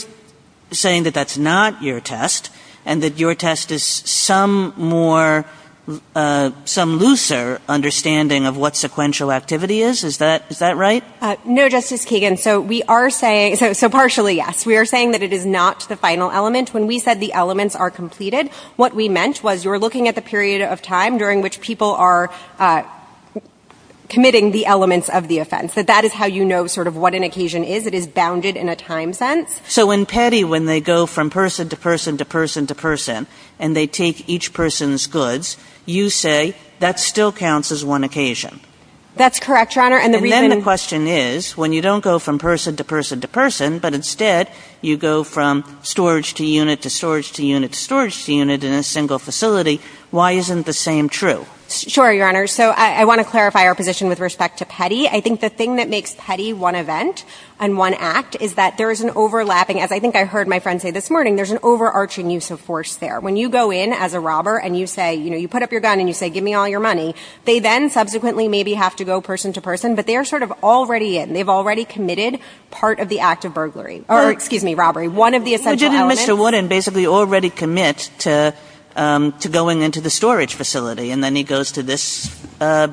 saying that that's not your test and that your test is some more – some looser understanding of what sequential activity is? Is that – is that right? No, Justice Kagan. So we are saying – so partially, yes. We are saying that it is not the final element. When we said the elements are completed, what we meant was you're looking at the period of time during which people are committing the elements of the offense, that that is how you know sort of what an occasion is. It is bounded in a time sense. So in Petty, when they go from person to person to person to person and they take each person's goods, you say that still counts as one occasion. That's correct, Your Honor. And the reason – And then the question is, when you don't go from person to person to person, but instead you go from storage to unit to storage to unit to storage to unit in a single facility, why isn't the same true? Sure, Your Honor. So I want to clarify our position with respect to Petty. I think the thing that makes Petty one event and one act is that there is an overlapping – as I think I heard my friend say this morning, there's an overarching use of force there. When you go in as a robber and you say – you know, you put up your gun and you say, give me all your money, they then subsequently maybe have to go person to person. But they are sort of already in. They've already committed part of the act of burglary – or, excuse me, robbery, one of the essential elements. But didn't Mr. Wooden basically already commit to going into the storage facility and then he goes to this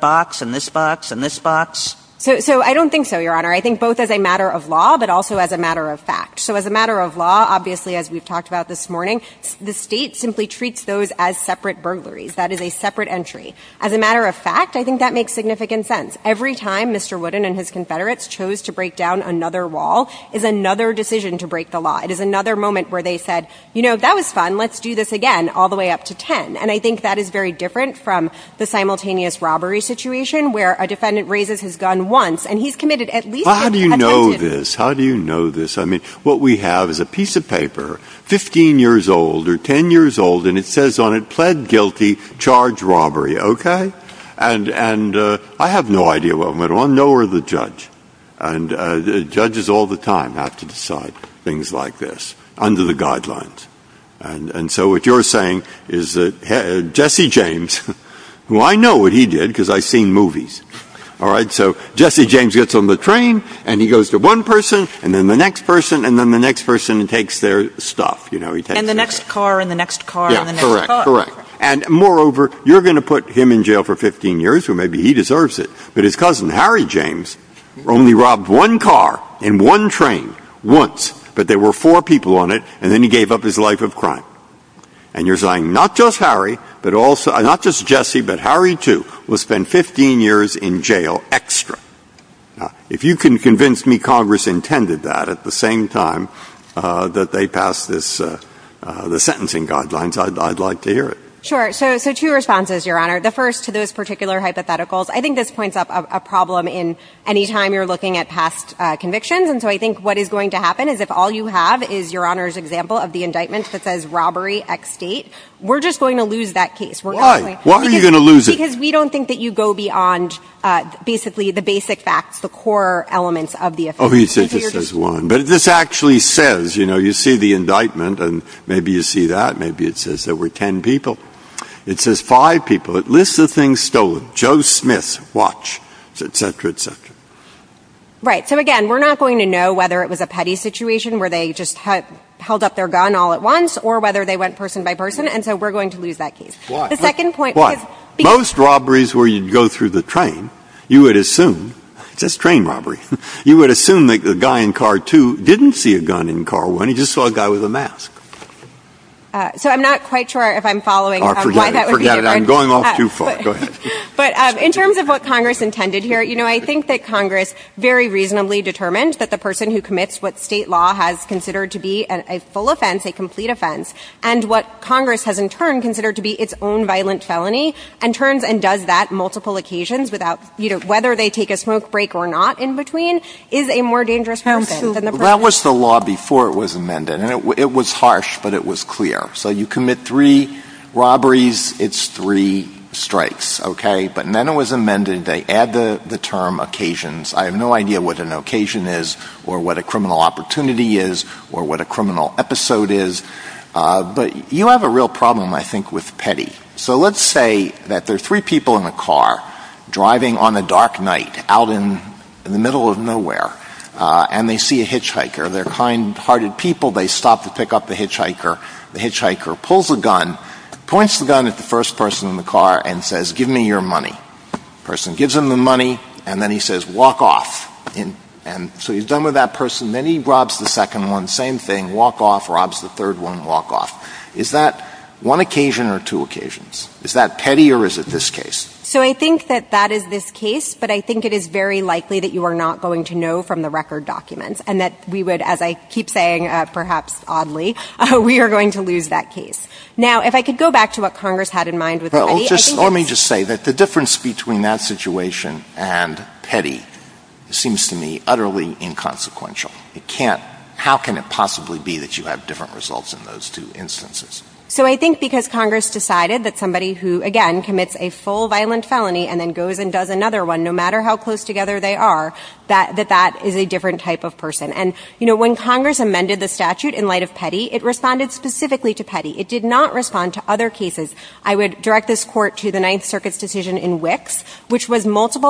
box and this box and this box? So I don't think so, Your Honor. I think both as a matter of law but also as a matter of fact. So as a matter of law, obviously, as we've talked about this morning, the State simply treats those as separate burglaries. That is a separate entry. As a matter of fact, I think that makes significant sense. Every time Mr. Wooden and his confederates chose to break down another wall is another decision to break the law. It is another moment where they said, you know, that was fun, let's do this again all the way up to 10. And I think that is very different from the simultaneous robbery situation where a defendant raises his gun once and he's committed at least – How do you know this? How do you know this? I mean, what we have is a piece of paper, 15 years old or 10 years old, and it says on it, pled guilty, charged robbery. Okay? And I have no idea what went on, nor the judge. And judges all the time have to decide things like this under the guidelines. And so what you're saying is that Jesse James, who I know what he did because I've seen movies, all right? So Jesse James gets on the train and he goes to one person and then the next person and then the next person takes their stuff, you know? And the next car and the next car and the next car. Yeah, correct, correct. And moreover, you're going to put him in jail for 15 years, or maybe he deserves it, but his cousin Harry James only robbed one car and one train once, but there were four people on it, and then he gave up his life of crime. And you're saying not just Harry, but also – not just Jesse, but Harry, too, will be 15 years in jail extra. Now, if you can convince me Congress intended that at the same time that they passed this – the sentencing guidelines, I'd like to hear it. Sure. So two responses, Your Honor. The first to those particular hypotheticals. I think this points up a problem in any time you're looking at past convictions. And so I think what is going to happen is if all you have is Your Honor's example of the indictment that says robbery, X date, we're just going to lose that case. Why are you going to lose it? Because we don't think that you go beyond basically the basic facts, the core elements of the offense. Oh, you said just as one. But if this actually says – you know, you see the indictment, and maybe you see that, maybe it says there were 10 people. It says five people. It lists the things stolen. Joe Smith's watch, et cetera, et cetera. Right. So again, we're not going to know whether it was a petty situation where they just held up their gun all at once or whether they went person by person, and so we're going to lose that case. Why? Why? Most robberies where you'd go through the train, you would assume – it says train robbery – you would assume that the guy in car two didn't see a gun in car one. He just saw a guy with a mask. So I'm not quite sure if I'm following why that would be different. Forget it. Forget it. I'm going off too far. Go ahead. But in terms of what Congress intended here, you know, I think that Congress very reasonably determined that the person who commits what State law has considered to be a full offense, a complete offense, and what Congress has in turn considered to be its own violent felony and turns and does that multiple occasions without – you know, whether they take a smoke break or not in between, is a more dangerous person than the person – Counsel, that was the law before it was amended, and it was harsh, but it was clear. So you commit three robberies, it's three strikes, okay? But then it was amended. They add the term occasions. I have no idea what an occasion is or what a criminal opportunity is or what a criminal episode is. But you have a real problem, I think, with petty. So let's say that there are three people in a car driving on a dark night out in the middle of nowhere, and they see a hitchhiker. They're kindhearted people. They stop to pick up the hitchhiker. The hitchhiker pulls a gun, points the gun at the first person in the car, and says, give me your money. The person gives him the money, and then he says, walk off. And so he's done with that person. Then he robs the second one. Same thing. Walk off. Robs the third one. Walk off. Is that one occasion or two occasions? Is that petty or is it this case? So I think that that is this case, but I think it is very likely that you are not going to know from the record documents and that we would, as I keep saying, perhaps oddly, we are going to lose that case. Now, if I could go back to what Congress had in mind with the money, I think it's Well, let me just say that the difference between that situation and petty seems to me utterly inconsequential. How can it possibly be that you have different results in those two instances? So I think because Congress decided that somebody who, again, commits a full violent felony and then goes and does another one, no matter how close together they are, that that is a different type of person. And when Congress amended the statute in light of petty, it responded specifically to petty. It did not respond to other cases. I would direct this Court to the Ninth Circuit's decision in Wicks, which was multiple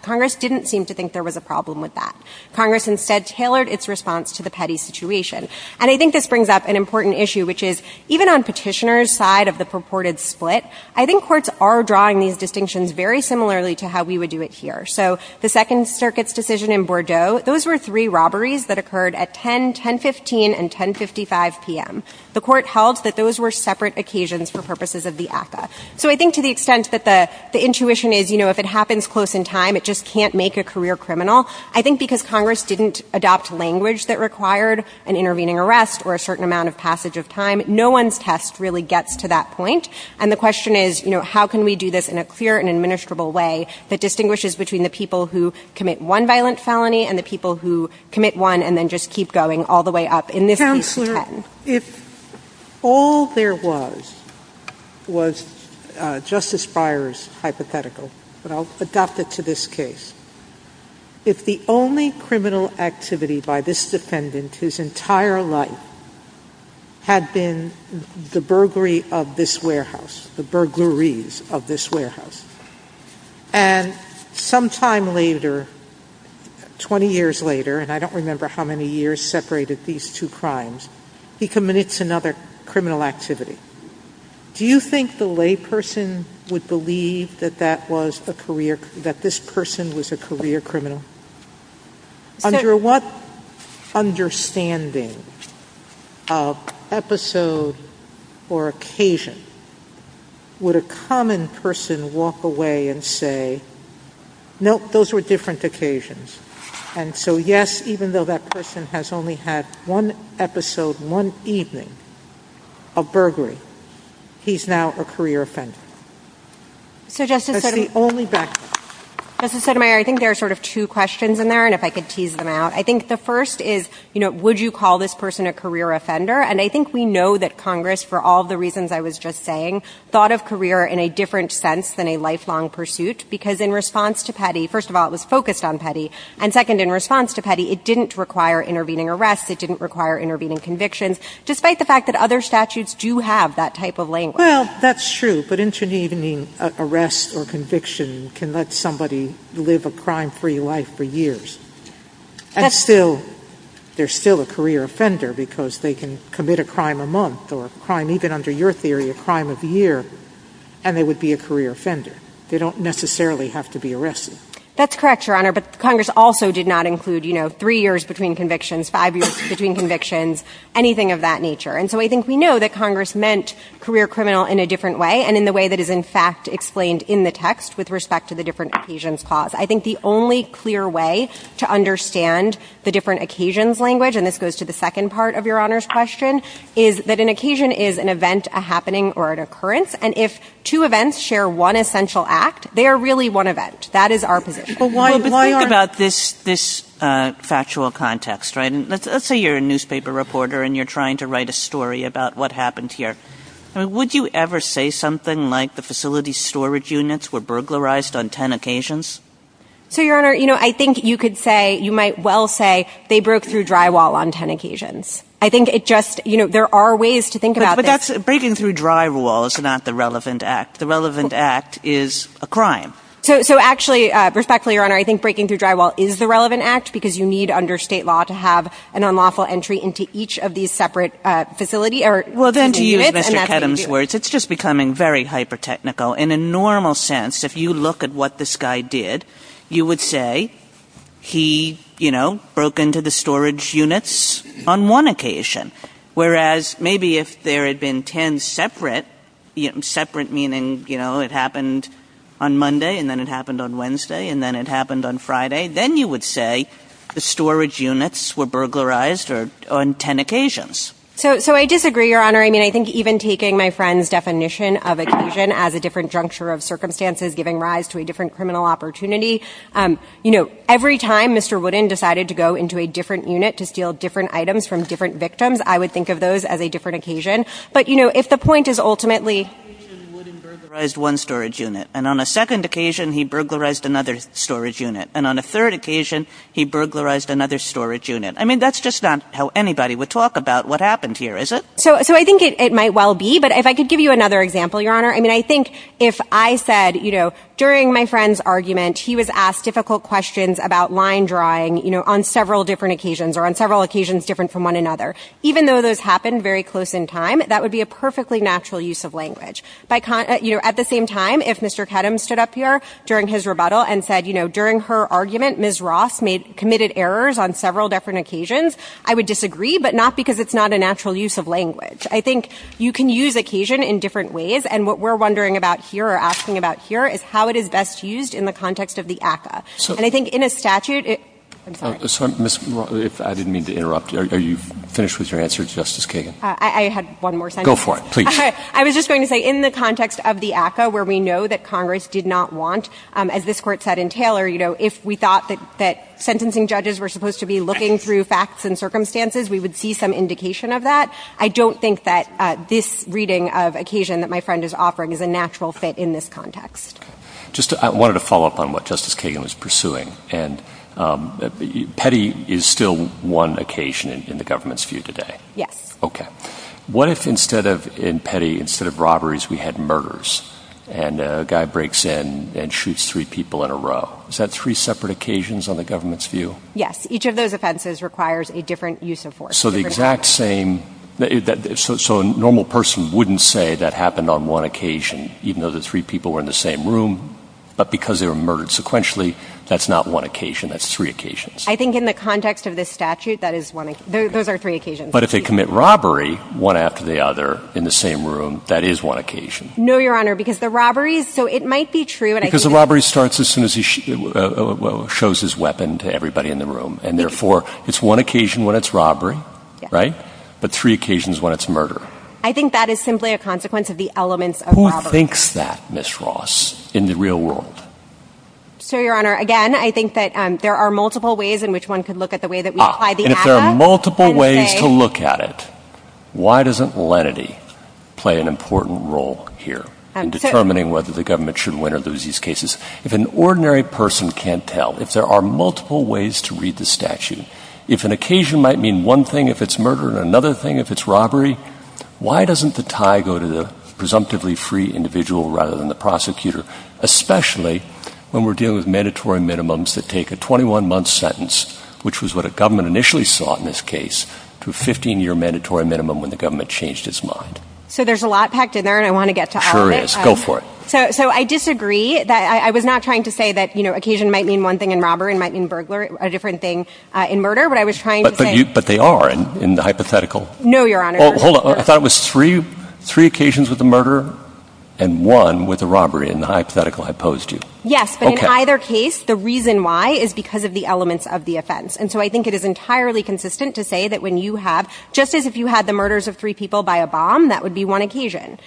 Congress didn't seem to think there was a problem with that. Congress instead tailored its response to the petty situation. And I think this brings up an important issue, which is even on Petitioner's side of the purported split, I think courts are drawing these distinctions very similarly to how we would do it here. So the Second Circuit's decision in Bordeaux, those were three robberies that occurred at 10, 10.15, and 10.55 p.m. The Court held that those were separate occasions for purposes of the ACCA. So I think to the extent that the intuition is, you know, if it happens close in time, it just can't make a career criminal. I think because Congress didn't adopt language that required an intervening arrest or a certain amount of passage of time, no one's test really gets to that point. And the question is, you know, how can we do this in a clear and administrable way that distinguishes between the people who commit one violent felony and the people who commit one and then just keep going all the way up in this case to 10. Well, if all there was, was Justice Breyer's hypothetical, but I'll adopt it to this case. If the only criminal activity by this defendant his entire life had been the burglary of this warehouse, the burglaries of this warehouse, and sometime later, 20 years later, and I don't remember how many years separated these two cases, he commits another criminal activity. Do you think the lay person would believe that that was a career, that this person was a career criminal? Under what understanding of episode or occasion would a common person walk away and say, nope, those were different occasions. And so yes, even though that person has only had one episode, one evening of burglary, he's now a career offender. That's the only background. Justice Sotomayor, I think there are sort of two questions in there, and if I could tease them out. I think the first is, you know, would you call this person a career offender? And I think we know that Congress, for all the reasons I was just saying, thought of career in a different sense than a lifelong pursuit, because in response to Petty, and second, in response to Petty, it didn't require intervening arrests, it didn't require intervening convictions, despite the fact that other statutes do have that type of language. Well, that's true, but intervening arrests or conviction can let somebody live a crime-free life for years. And still, they're still a career offender because they can commit a crime a month or a crime, even under your theory, a crime of the year, and they would be a career offender. They don't necessarily have to be arrested. That's correct, Your Honor, but Congress also did not include, you know, three years between convictions, five years between convictions, anything of that nature. And so I think we know that Congress meant career criminal in a different way, and in the way that is, in fact, explained in the text with respect to the different occasions clause. I think the only clear way to understand the different occasions language, and this goes to the second part of Your Honor's question, is that an occasion is an event, a happening, or an occurrence, and if two events share one essential act, they are really one event. That is our position. Well, but think about this factual context, right? Let's say you're a newspaper reporter and you're trying to write a story about what happened here. Would you ever say something like the facility's storage units were burglarized on 10 occasions? So, Your Honor, you know, I think you could say, you might well say, they broke through drywall on 10 occasions. I think it just, you know, there are ways to think about this. But that's, breaking through drywall is not the relevant act. The relevant act is a crime. So, actually, respectfully, Your Honor, I think breaking through drywall is the relevant act because you need, under state law, to have an unlawful entry into each of these separate facility or units. Well, then, to use Mr. Kedem's words, it's just becoming very hyper-technical. In a normal sense, if you look at what this guy did, you would say, he, you know, broke into the storage units on one occasion. Whereas, maybe if there had been 10 separate, separate meaning, you know, it happened on Monday, and then it happened on Wednesday, and then it happened on Friday, then you would say the storage units were burglarized on 10 occasions. So, I disagree, Your Honor. I mean, I think even taking my friend's definition of occasion as a different juncture of circumstances giving rise to a different criminal opportunity. You know, every time Mr. Wooden decided to go into a different unit to steal different items from different victims, I would think of those as a different occasion. But, you know, if the point is, ultimately, On one occasion, Wooden burglarized one storage unit. And on a second occasion, he burglarized another storage unit. And on a third occasion, he burglarized another storage unit. I mean, that's just not how anybody would talk about what happened here, is it? So, I think it might well be. But if I could give you another example, Your Honor, I mean, I think if I said, you know, during my friend's argument, he was asked difficult questions about line drawing, you know, on several different occasions, or on several occasions different from one another. Even though those happened very close in time, that would be a perfectly natural use of language. You know, at the same time, if Mr. Kedem stood up here during his rebuttal and said, you know, during her argument, Ms. Ross committed errors on several different occasions, I would disagree. But not because it's not a natural use of language. I think you can use occasion in different ways. And what we're wondering about here, or asking about here, is how it is best used in the context of the ACCA. And I think in a statute, I'm sorry. So, Ms. Ross, if I didn't mean to interrupt, are you finished with your answer, Justice Kagan? I had one more sentence. Go for it, please. I was just going to say, in the context of the ACCA, where we know that Congress did not want, as this Court said in Taylor, you know, if we thought that sentencing judges were supposed to be looking through facts and circumstances, we would see some indication of that. I don't think that this reading of occasion that my friend is offering is a natural fit in this context. Just, I wanted to follow up on what Justice Kagan was pursuing. And petty is still one occasion in the government's view today. Yes. Okay. What if instead of, in petty, instead of robberies, we had murders, and a guy breaks in and shoots three people in a row? Is that three separate occasions on the government's view? Yes. Each of those offenses requires a different use of force. So the exact same, so a normal person wouldn't say that happened on one occasion, even though the three people were in the same room, but because they were murdered sequentially, that's not one occasion. That's three occasions. I think in the context of this statute, that is one, those are three occasions. But if they commit robbery, one after the other, in the same room, that is one occasion. No, Your Honor, because the robberies, so it might be true. Because the robbery starts as soon as he shows his weapon to everybody in the room. And therefore, it's one occasion when it's robbery, right? But three occasions when it's murder. I think that is simply a consequence of the elements of robbery. Who thinks that, Ms. Ross, in the real world? So, Your Honor, again, I think that there are multiple ways in which one could look at the way that we apply the ACCA. And if there are multiple ways to look at it, why doesn't lenity play an important role here in determining whether the government should win or lose these cases? If an ordinary person can't tell, if there are multiple ways to read the statute, if an occasion might mean one thing if it's murder and another thing if it's robbery, why doesn't the tie go to the presumptively free individual rather than the prosecutor, especially when we're dealing with mandatory minimum when the government changed its mind? So there's a lot packed in there, and I want to get to all of it. Sure is. Go for it. So I disagree. I was not trying to say that, you know, occasion might mean one thing in robbery, might mean burglar, a different thing in murder. But I was trying to say — But they are in the hypothetical. No, Your Honor. Hold on. I thought it was three occasions with the murder and one with the robbery in Yes. But in either case, the reason why is because of the elements of the offense. And so I think it is entirely consistent to say that when you have — just as if you had the murders of three people by a bomb, that would be one occasion.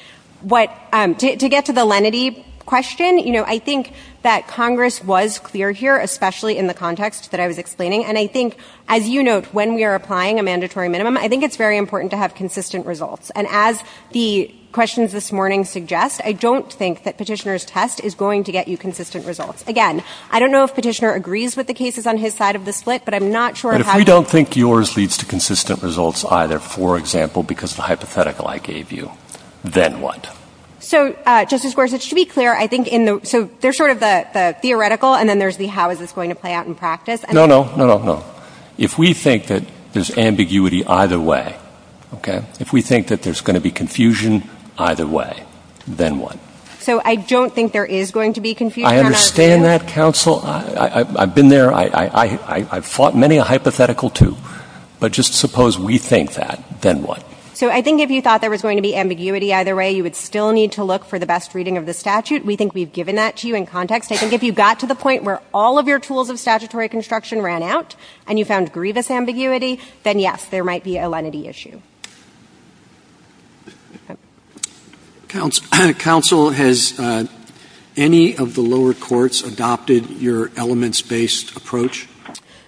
To get to the lenity question, you know, I think that Congress was clear here, especially in the context that I was explaining. And I think, as you note, when we are applying a mandatory minimum, I think it's very important to have consistent results. And as the questions this morning suggest, I don't think that Petitioner's test is going to get you consistent results. Again, I don't know if Petitioner agrees with the cases on his side of the aisle, but I'm not sure of how — But if we don't think yours leads to consistent results either, for example, because of the hypothetical I gave you, then what? So, Justice Gorsuch, to be clear, I think in the — so there's sort of the theoretical and then there's the how is this going to play out in practice. No, no. No, no, no. If we think that there's ambiguity either way, okay, if we think that there's going to be confusion either way, then what? So I don't think there is going to be confusion. I understand that, counsel. I've been there. I've fought many a hypothetical, too. But just suppose we think that, then what? So I think if you thought there was going to be ambiguity either way, you would still need to look for the best reading of the statute. We think we've given that to you in context. I think if you got to the point where all of your tools of statutory construction ran out and you found grievous ambiguity, then yes, there might be a lenity issue. Okay. Counsel, has any of the lower courts adopted your elements-based approach?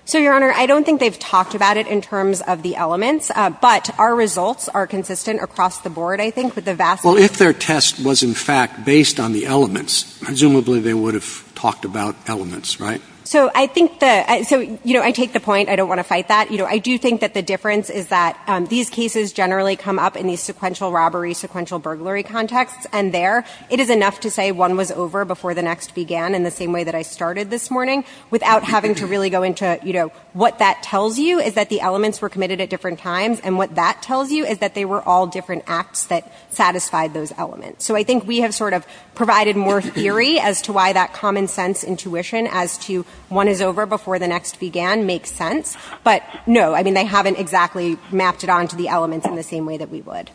So, Your Honor, I don't think they've talked about it in terms of the elements, but our results are consistent across the board, I think, with the vast majority — Well, if their test was, in fact, based on the elements, presumably they would have talked about elements, right? So I think the — so, you know, I take the point. I don't want to fight that. You know, I do think that the difference is that these cases generally come up in these sequential robbery, sequential burglary contexts, and there, it is enough to say one was over before the next began in the same way that I started this morning, without having to really go into, you know, what that tells you is that the elements were committed at different times, and what that tells you is that they were all different acts that satisfied those elements. So I think we have sort of provided more theory as to why that common-sense intuition as to one is over before the next began makes sense. But, no, I mean, they haven't exactly mapped it onto the elements in the same way that we would.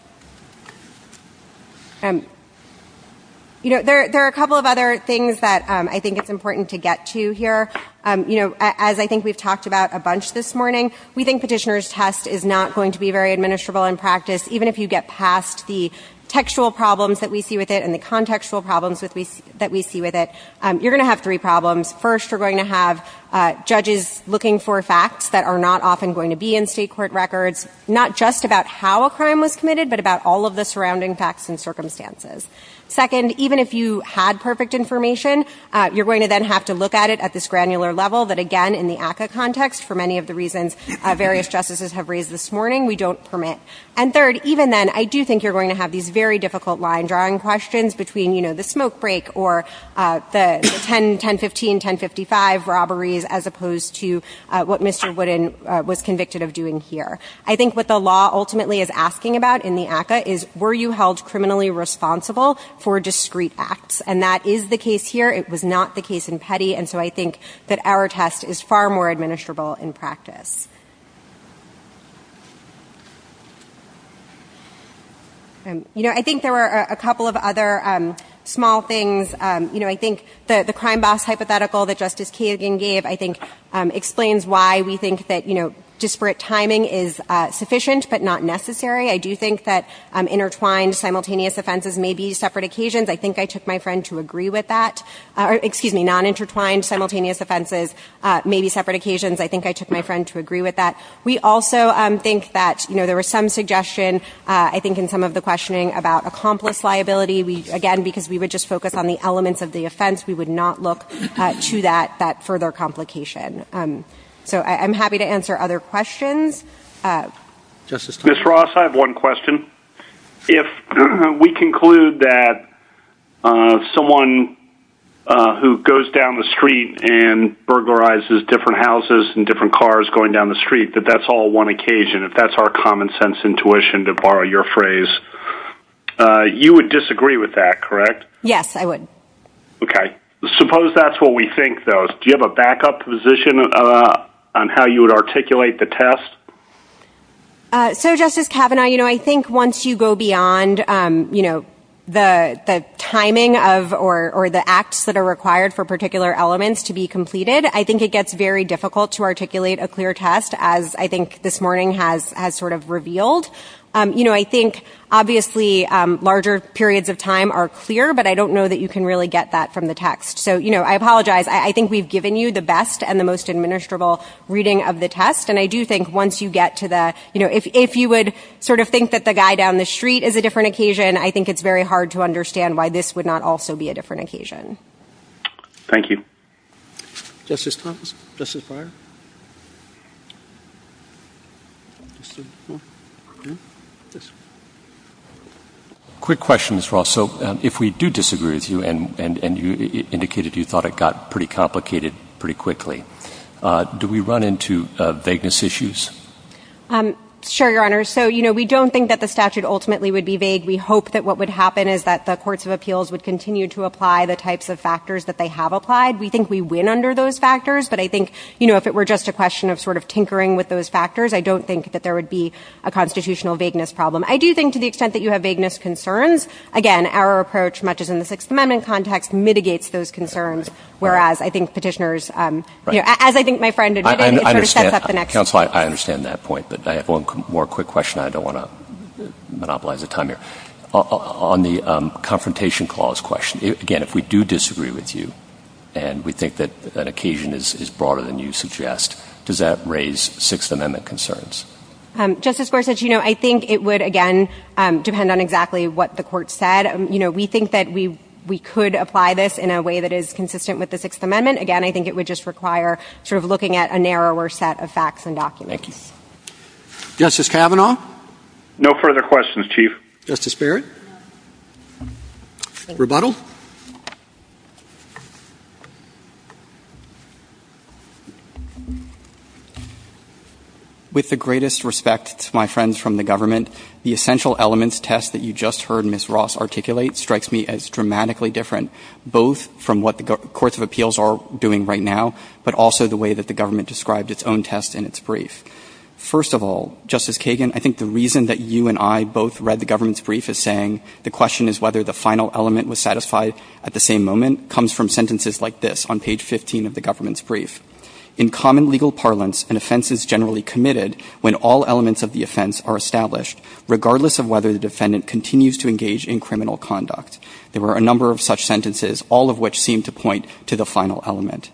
You know, there are a couple of other things that I think it's important to get to here. You know, as I think we've talked about a bunch this morning, we think petitioner's test is not going to be very administrable in practice, even if you get past the textual problems that we see with it and the contextual problems that we see with it. You're going to have three problems. First, you're going to have judges looking for facts that are not often going to be in state court records, not just about how a crime was committed, but about all of the surrounding facts and circumstances. Second, even if you had perfect information, you're going to then have to look at it at this granular level that, again, in the ACCA context, for many of the reasons various justices have raised this morning, we don't permit. And third, even then, I do think you're going to have these very difficult line-drawing questions between, you know, the smoke break or the 10, 1015, 1055 robberies, as opposed to what Mr. Wooden was convicted of doing here. I think what the law ultimately is asking about in the ACCA is, were you held criminally responsible for discrete acts? And that is the case here. It was not the case in Petty. And so I think that our test is far more administrable in practice. You know, I think there were a couple of other small things. You know, I think the crime boss hypothetical that Justice Kagan gave, I think, explains why we think that, you know, disparate timing is sufficient but not necessary. I do think that intertwined simultaneous offenses may be separate occasions. I think I took my friend to agree with that. Excuse me, non-intertwined simultaneous offenses may be separate occasions. I think I took my friend to agree with that. We also think that, you know, there was some suggestion, I think, in some of the questioning about accomplice liability. Again, because we would just focus on the elements of the offense, we would not look to that further complication. So I'm happy to answer other questions. Justice Thompson? Ms. Ross, I have one question. If we conclude that someone who goes down the street and burglarizes different houses and different cars going down the street, that that's all one occasion, if that's our common sense intuition, to borrow your phrase, you would disagree with that, correct? Yes, I would. Okay. Suppose that's what we think, though. Do you have a backup position on how you would articulate the test? So, Justice Kavanaugh, you know, I think once you go beyond, you know, the timing of or the acts that are required for particular elements to be completed, I think it gets very difficult to articulate a clear test, as I think this morning has sort of revealed. You know, I think, obviously, larger periods of time are clear, but I don't know that you can really get that from the text. So, you know, I apologize. I think we've given you the best and the most administrable reading of the test. And I do think once you get to the, you know, if you would sort of think that the guy down the street is a different occasion, I think it's very hard to understand why this would not also be a different occasion. Thank you. Justice Thomas. Justice Breyer. Just a moment. Yes. Quick question, Ms. Ross. So if we do disagree with you, and you indicated you thought it got pretty complicated pretty quickly, do we run into vagueness issues? Sure, Your Honor. So, you know, we don't think that the statute ultimately would be vague. We hope that what would happen is that the courts of appeals would continue to apply the types of factors that they have applied. We think we win under those factors, but I think, you know, if it were just a question of sort of tinkering with those factors, I don't think that there would be a constitutional vagueness problem. I do think to the extent that you have vagueness concerns, again, our approach, much as in the Sixth Amendment context, mitigates those concerns, whereas I think Petitioners, you know, as I think my friend admitted, it sort of sets up the next question. I understand. Counsel, I understand that point, but I have one more quick question. I don't want to monopolize the time here. On the Confrontation Clause question, again, if we do disagree with you and we think that occasion is broader than you suggest, does that raise Sixth Amendment concerns? Justice Gorsuch, you know, I think it would, again, depend on exactly what the court said. You know, we think that we could apply this in a way that is consistent with the Sixth Amendment. Again, I think it would just require sort of looking at a narrower set of facts and documents. Thank you. Justice Kavanaugh? No further questions, Chief. Thank you. Justice Barrett? Thank you. Rebuttal? With the greatest respect to my friends from the government, the essential elements test that you just heard Ms. Ross articulate strikes me as dramatically different both from what the courts of appeals are doing right now, but also the way that the government described its own test in its brief. First of all, Justice Kagan, I think the reason that you and I both read the government's brief is saying the question is whether the final element was satisfied at the same moment comes from sentences like this on page 15 of the government's brief. In common legal parlance, an offense is generally committed when all elements of the offense are established, regardless of whether the defendant continues to engage in criminal conduct. There were a number of such sentences, all of which seemed to point to the final element.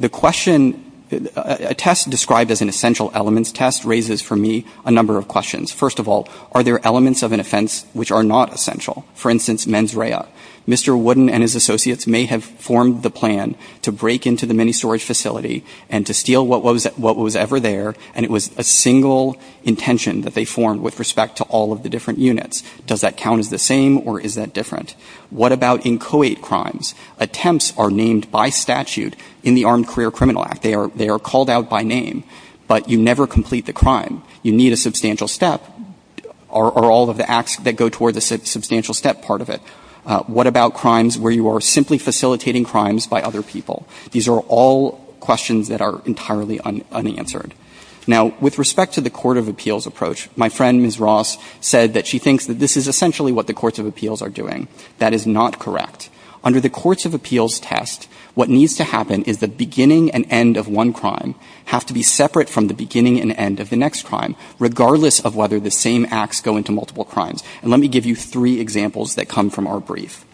The question, a test described as an essential elements test raises for me a number of questions. First of all, are there elements of an offense which are not essential? For instance, mens rea. Mr. Wooden and his associates may have formed the plan to break into the mini storage facility and to steal what was ever there, and it was a single intention that they formed with respect to all of the different units. Does that count as the same or is that different? What about inchoate crimes? Attempts are named by statute in the Armed Career Criminal Act. They are called out by name, but you never complete the crime. You need a substantial step. Are all of the acts that go toward the substantial step part of it? What about crimes where you are simply facilitating crimes by other people? These are all questions that are entirely unanswered. Now, with respect to the court of appeals approach, my friend, Ms. Ross, said that she thinks that this is essentially what the courts of appeals are doing. That is not correct. Under the courts of appeals test, what needs to happen is the beginning and end of one crime have to be separate from the beginning and end of the next crime, regardless of whether the same acts go into multiple crimes. And let me give you three examples that come from our brief.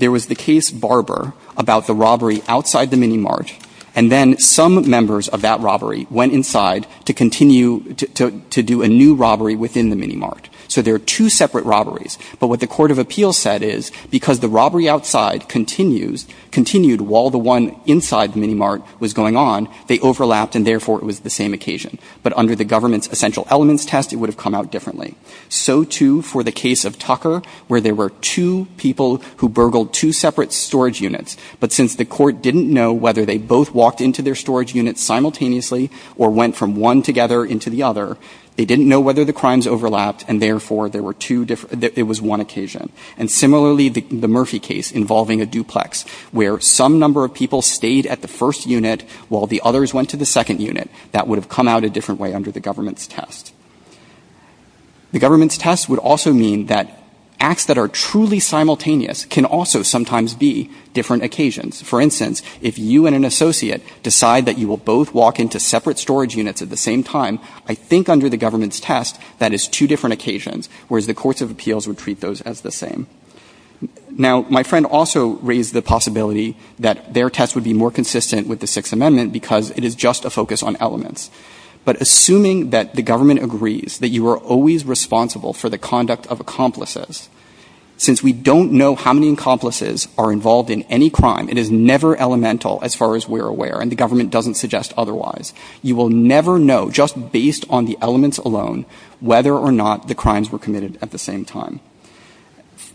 There was the case Barber about the robbery outside the mini mart, and then some members of that robbery went inside to continue to do a new robbery within the mini mart. So there are two separate robberies. But what the court of appeals said is because the robbery outside continues, continued while the one inside the mini mart was going on, they overlapped, and therefore it was the same occasion. But under the government's essential elements test, it would have come out differently. So, too, for the case of Tucker, where there were two people who burgled two separate storage units, but since the court didn't know whether they both walked into their storage units simultaneously or went from one together into the other, they didn't know whether the crimes overlapped, and therefore it was one occasion. And similarly, the Murphy case involving a duplex, where some number of people stayed at the first unit while the others went to the second unit, that would have come out a different way under the government's test. The government's test would also mean that acts that are truly simultaneous can also sometimes be different occasions. For instance, if you and an associate decide that you will both walk into separate storage units at the same time, I think under the government's test, that is two different occasions, whereas the courts of appeals would treat those as the same. Now, my friend also raised the possibility that their test would be more consistent with the Sixth Amendment because it is just a focus on elements. But assuming that the government agrees that you are always responsible for the conduct of accomplices, since we don't know how many accomplices are involved in any crime, it is never elemental as far as we're aware, and the government doesn't suggest otherwise. You will never know, just based on the elements alone, whether or not the crimes were committed at the same time.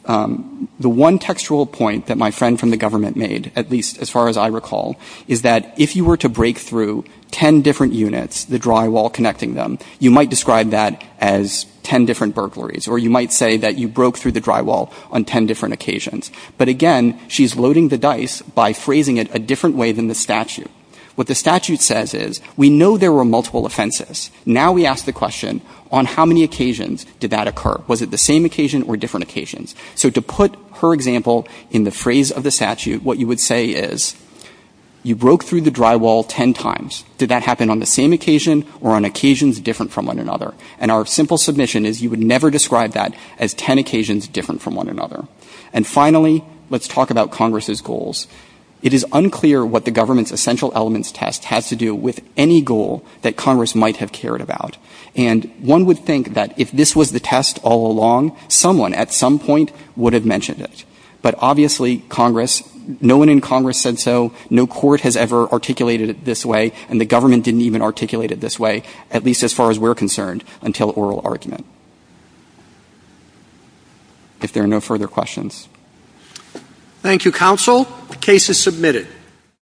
The one textual point that my friend from the government made, at least as far as I recall, is that if you were to break through ten different units, the drywall connecting them, you might describe that as ten different burglaries, or you might say that you broke through the drywall on ten different occasions. But again, she's loading the dice by phrasing it a different way than the statute. What the statute says is, we know there were multiple offenses. Now we ask the question, on how many occasions did that occur? Was it the same occasion or different occasions? So to put her example in the phrase of the statute, what you would say is, you broke through the drywall ten times. Did that happen on the same occasion or on occasions different from one another? And our simple submission is you would never describe that as ten occasions different from one another. And finally, let's talk about Congress's goals. It is unclear what the government's essential elements test has to do with any goal that Congress might have cared about. And one would think that if this was the test all along, someone at some point would have mentioned it. But obviously, Congress, no one in Congress said so. No court has ever articulated it this way, and the government didn't even articulate it this way, at least as far as we're concerned, until oral argument. If there are no further questions. Thank you, Counsel. The case is submitted.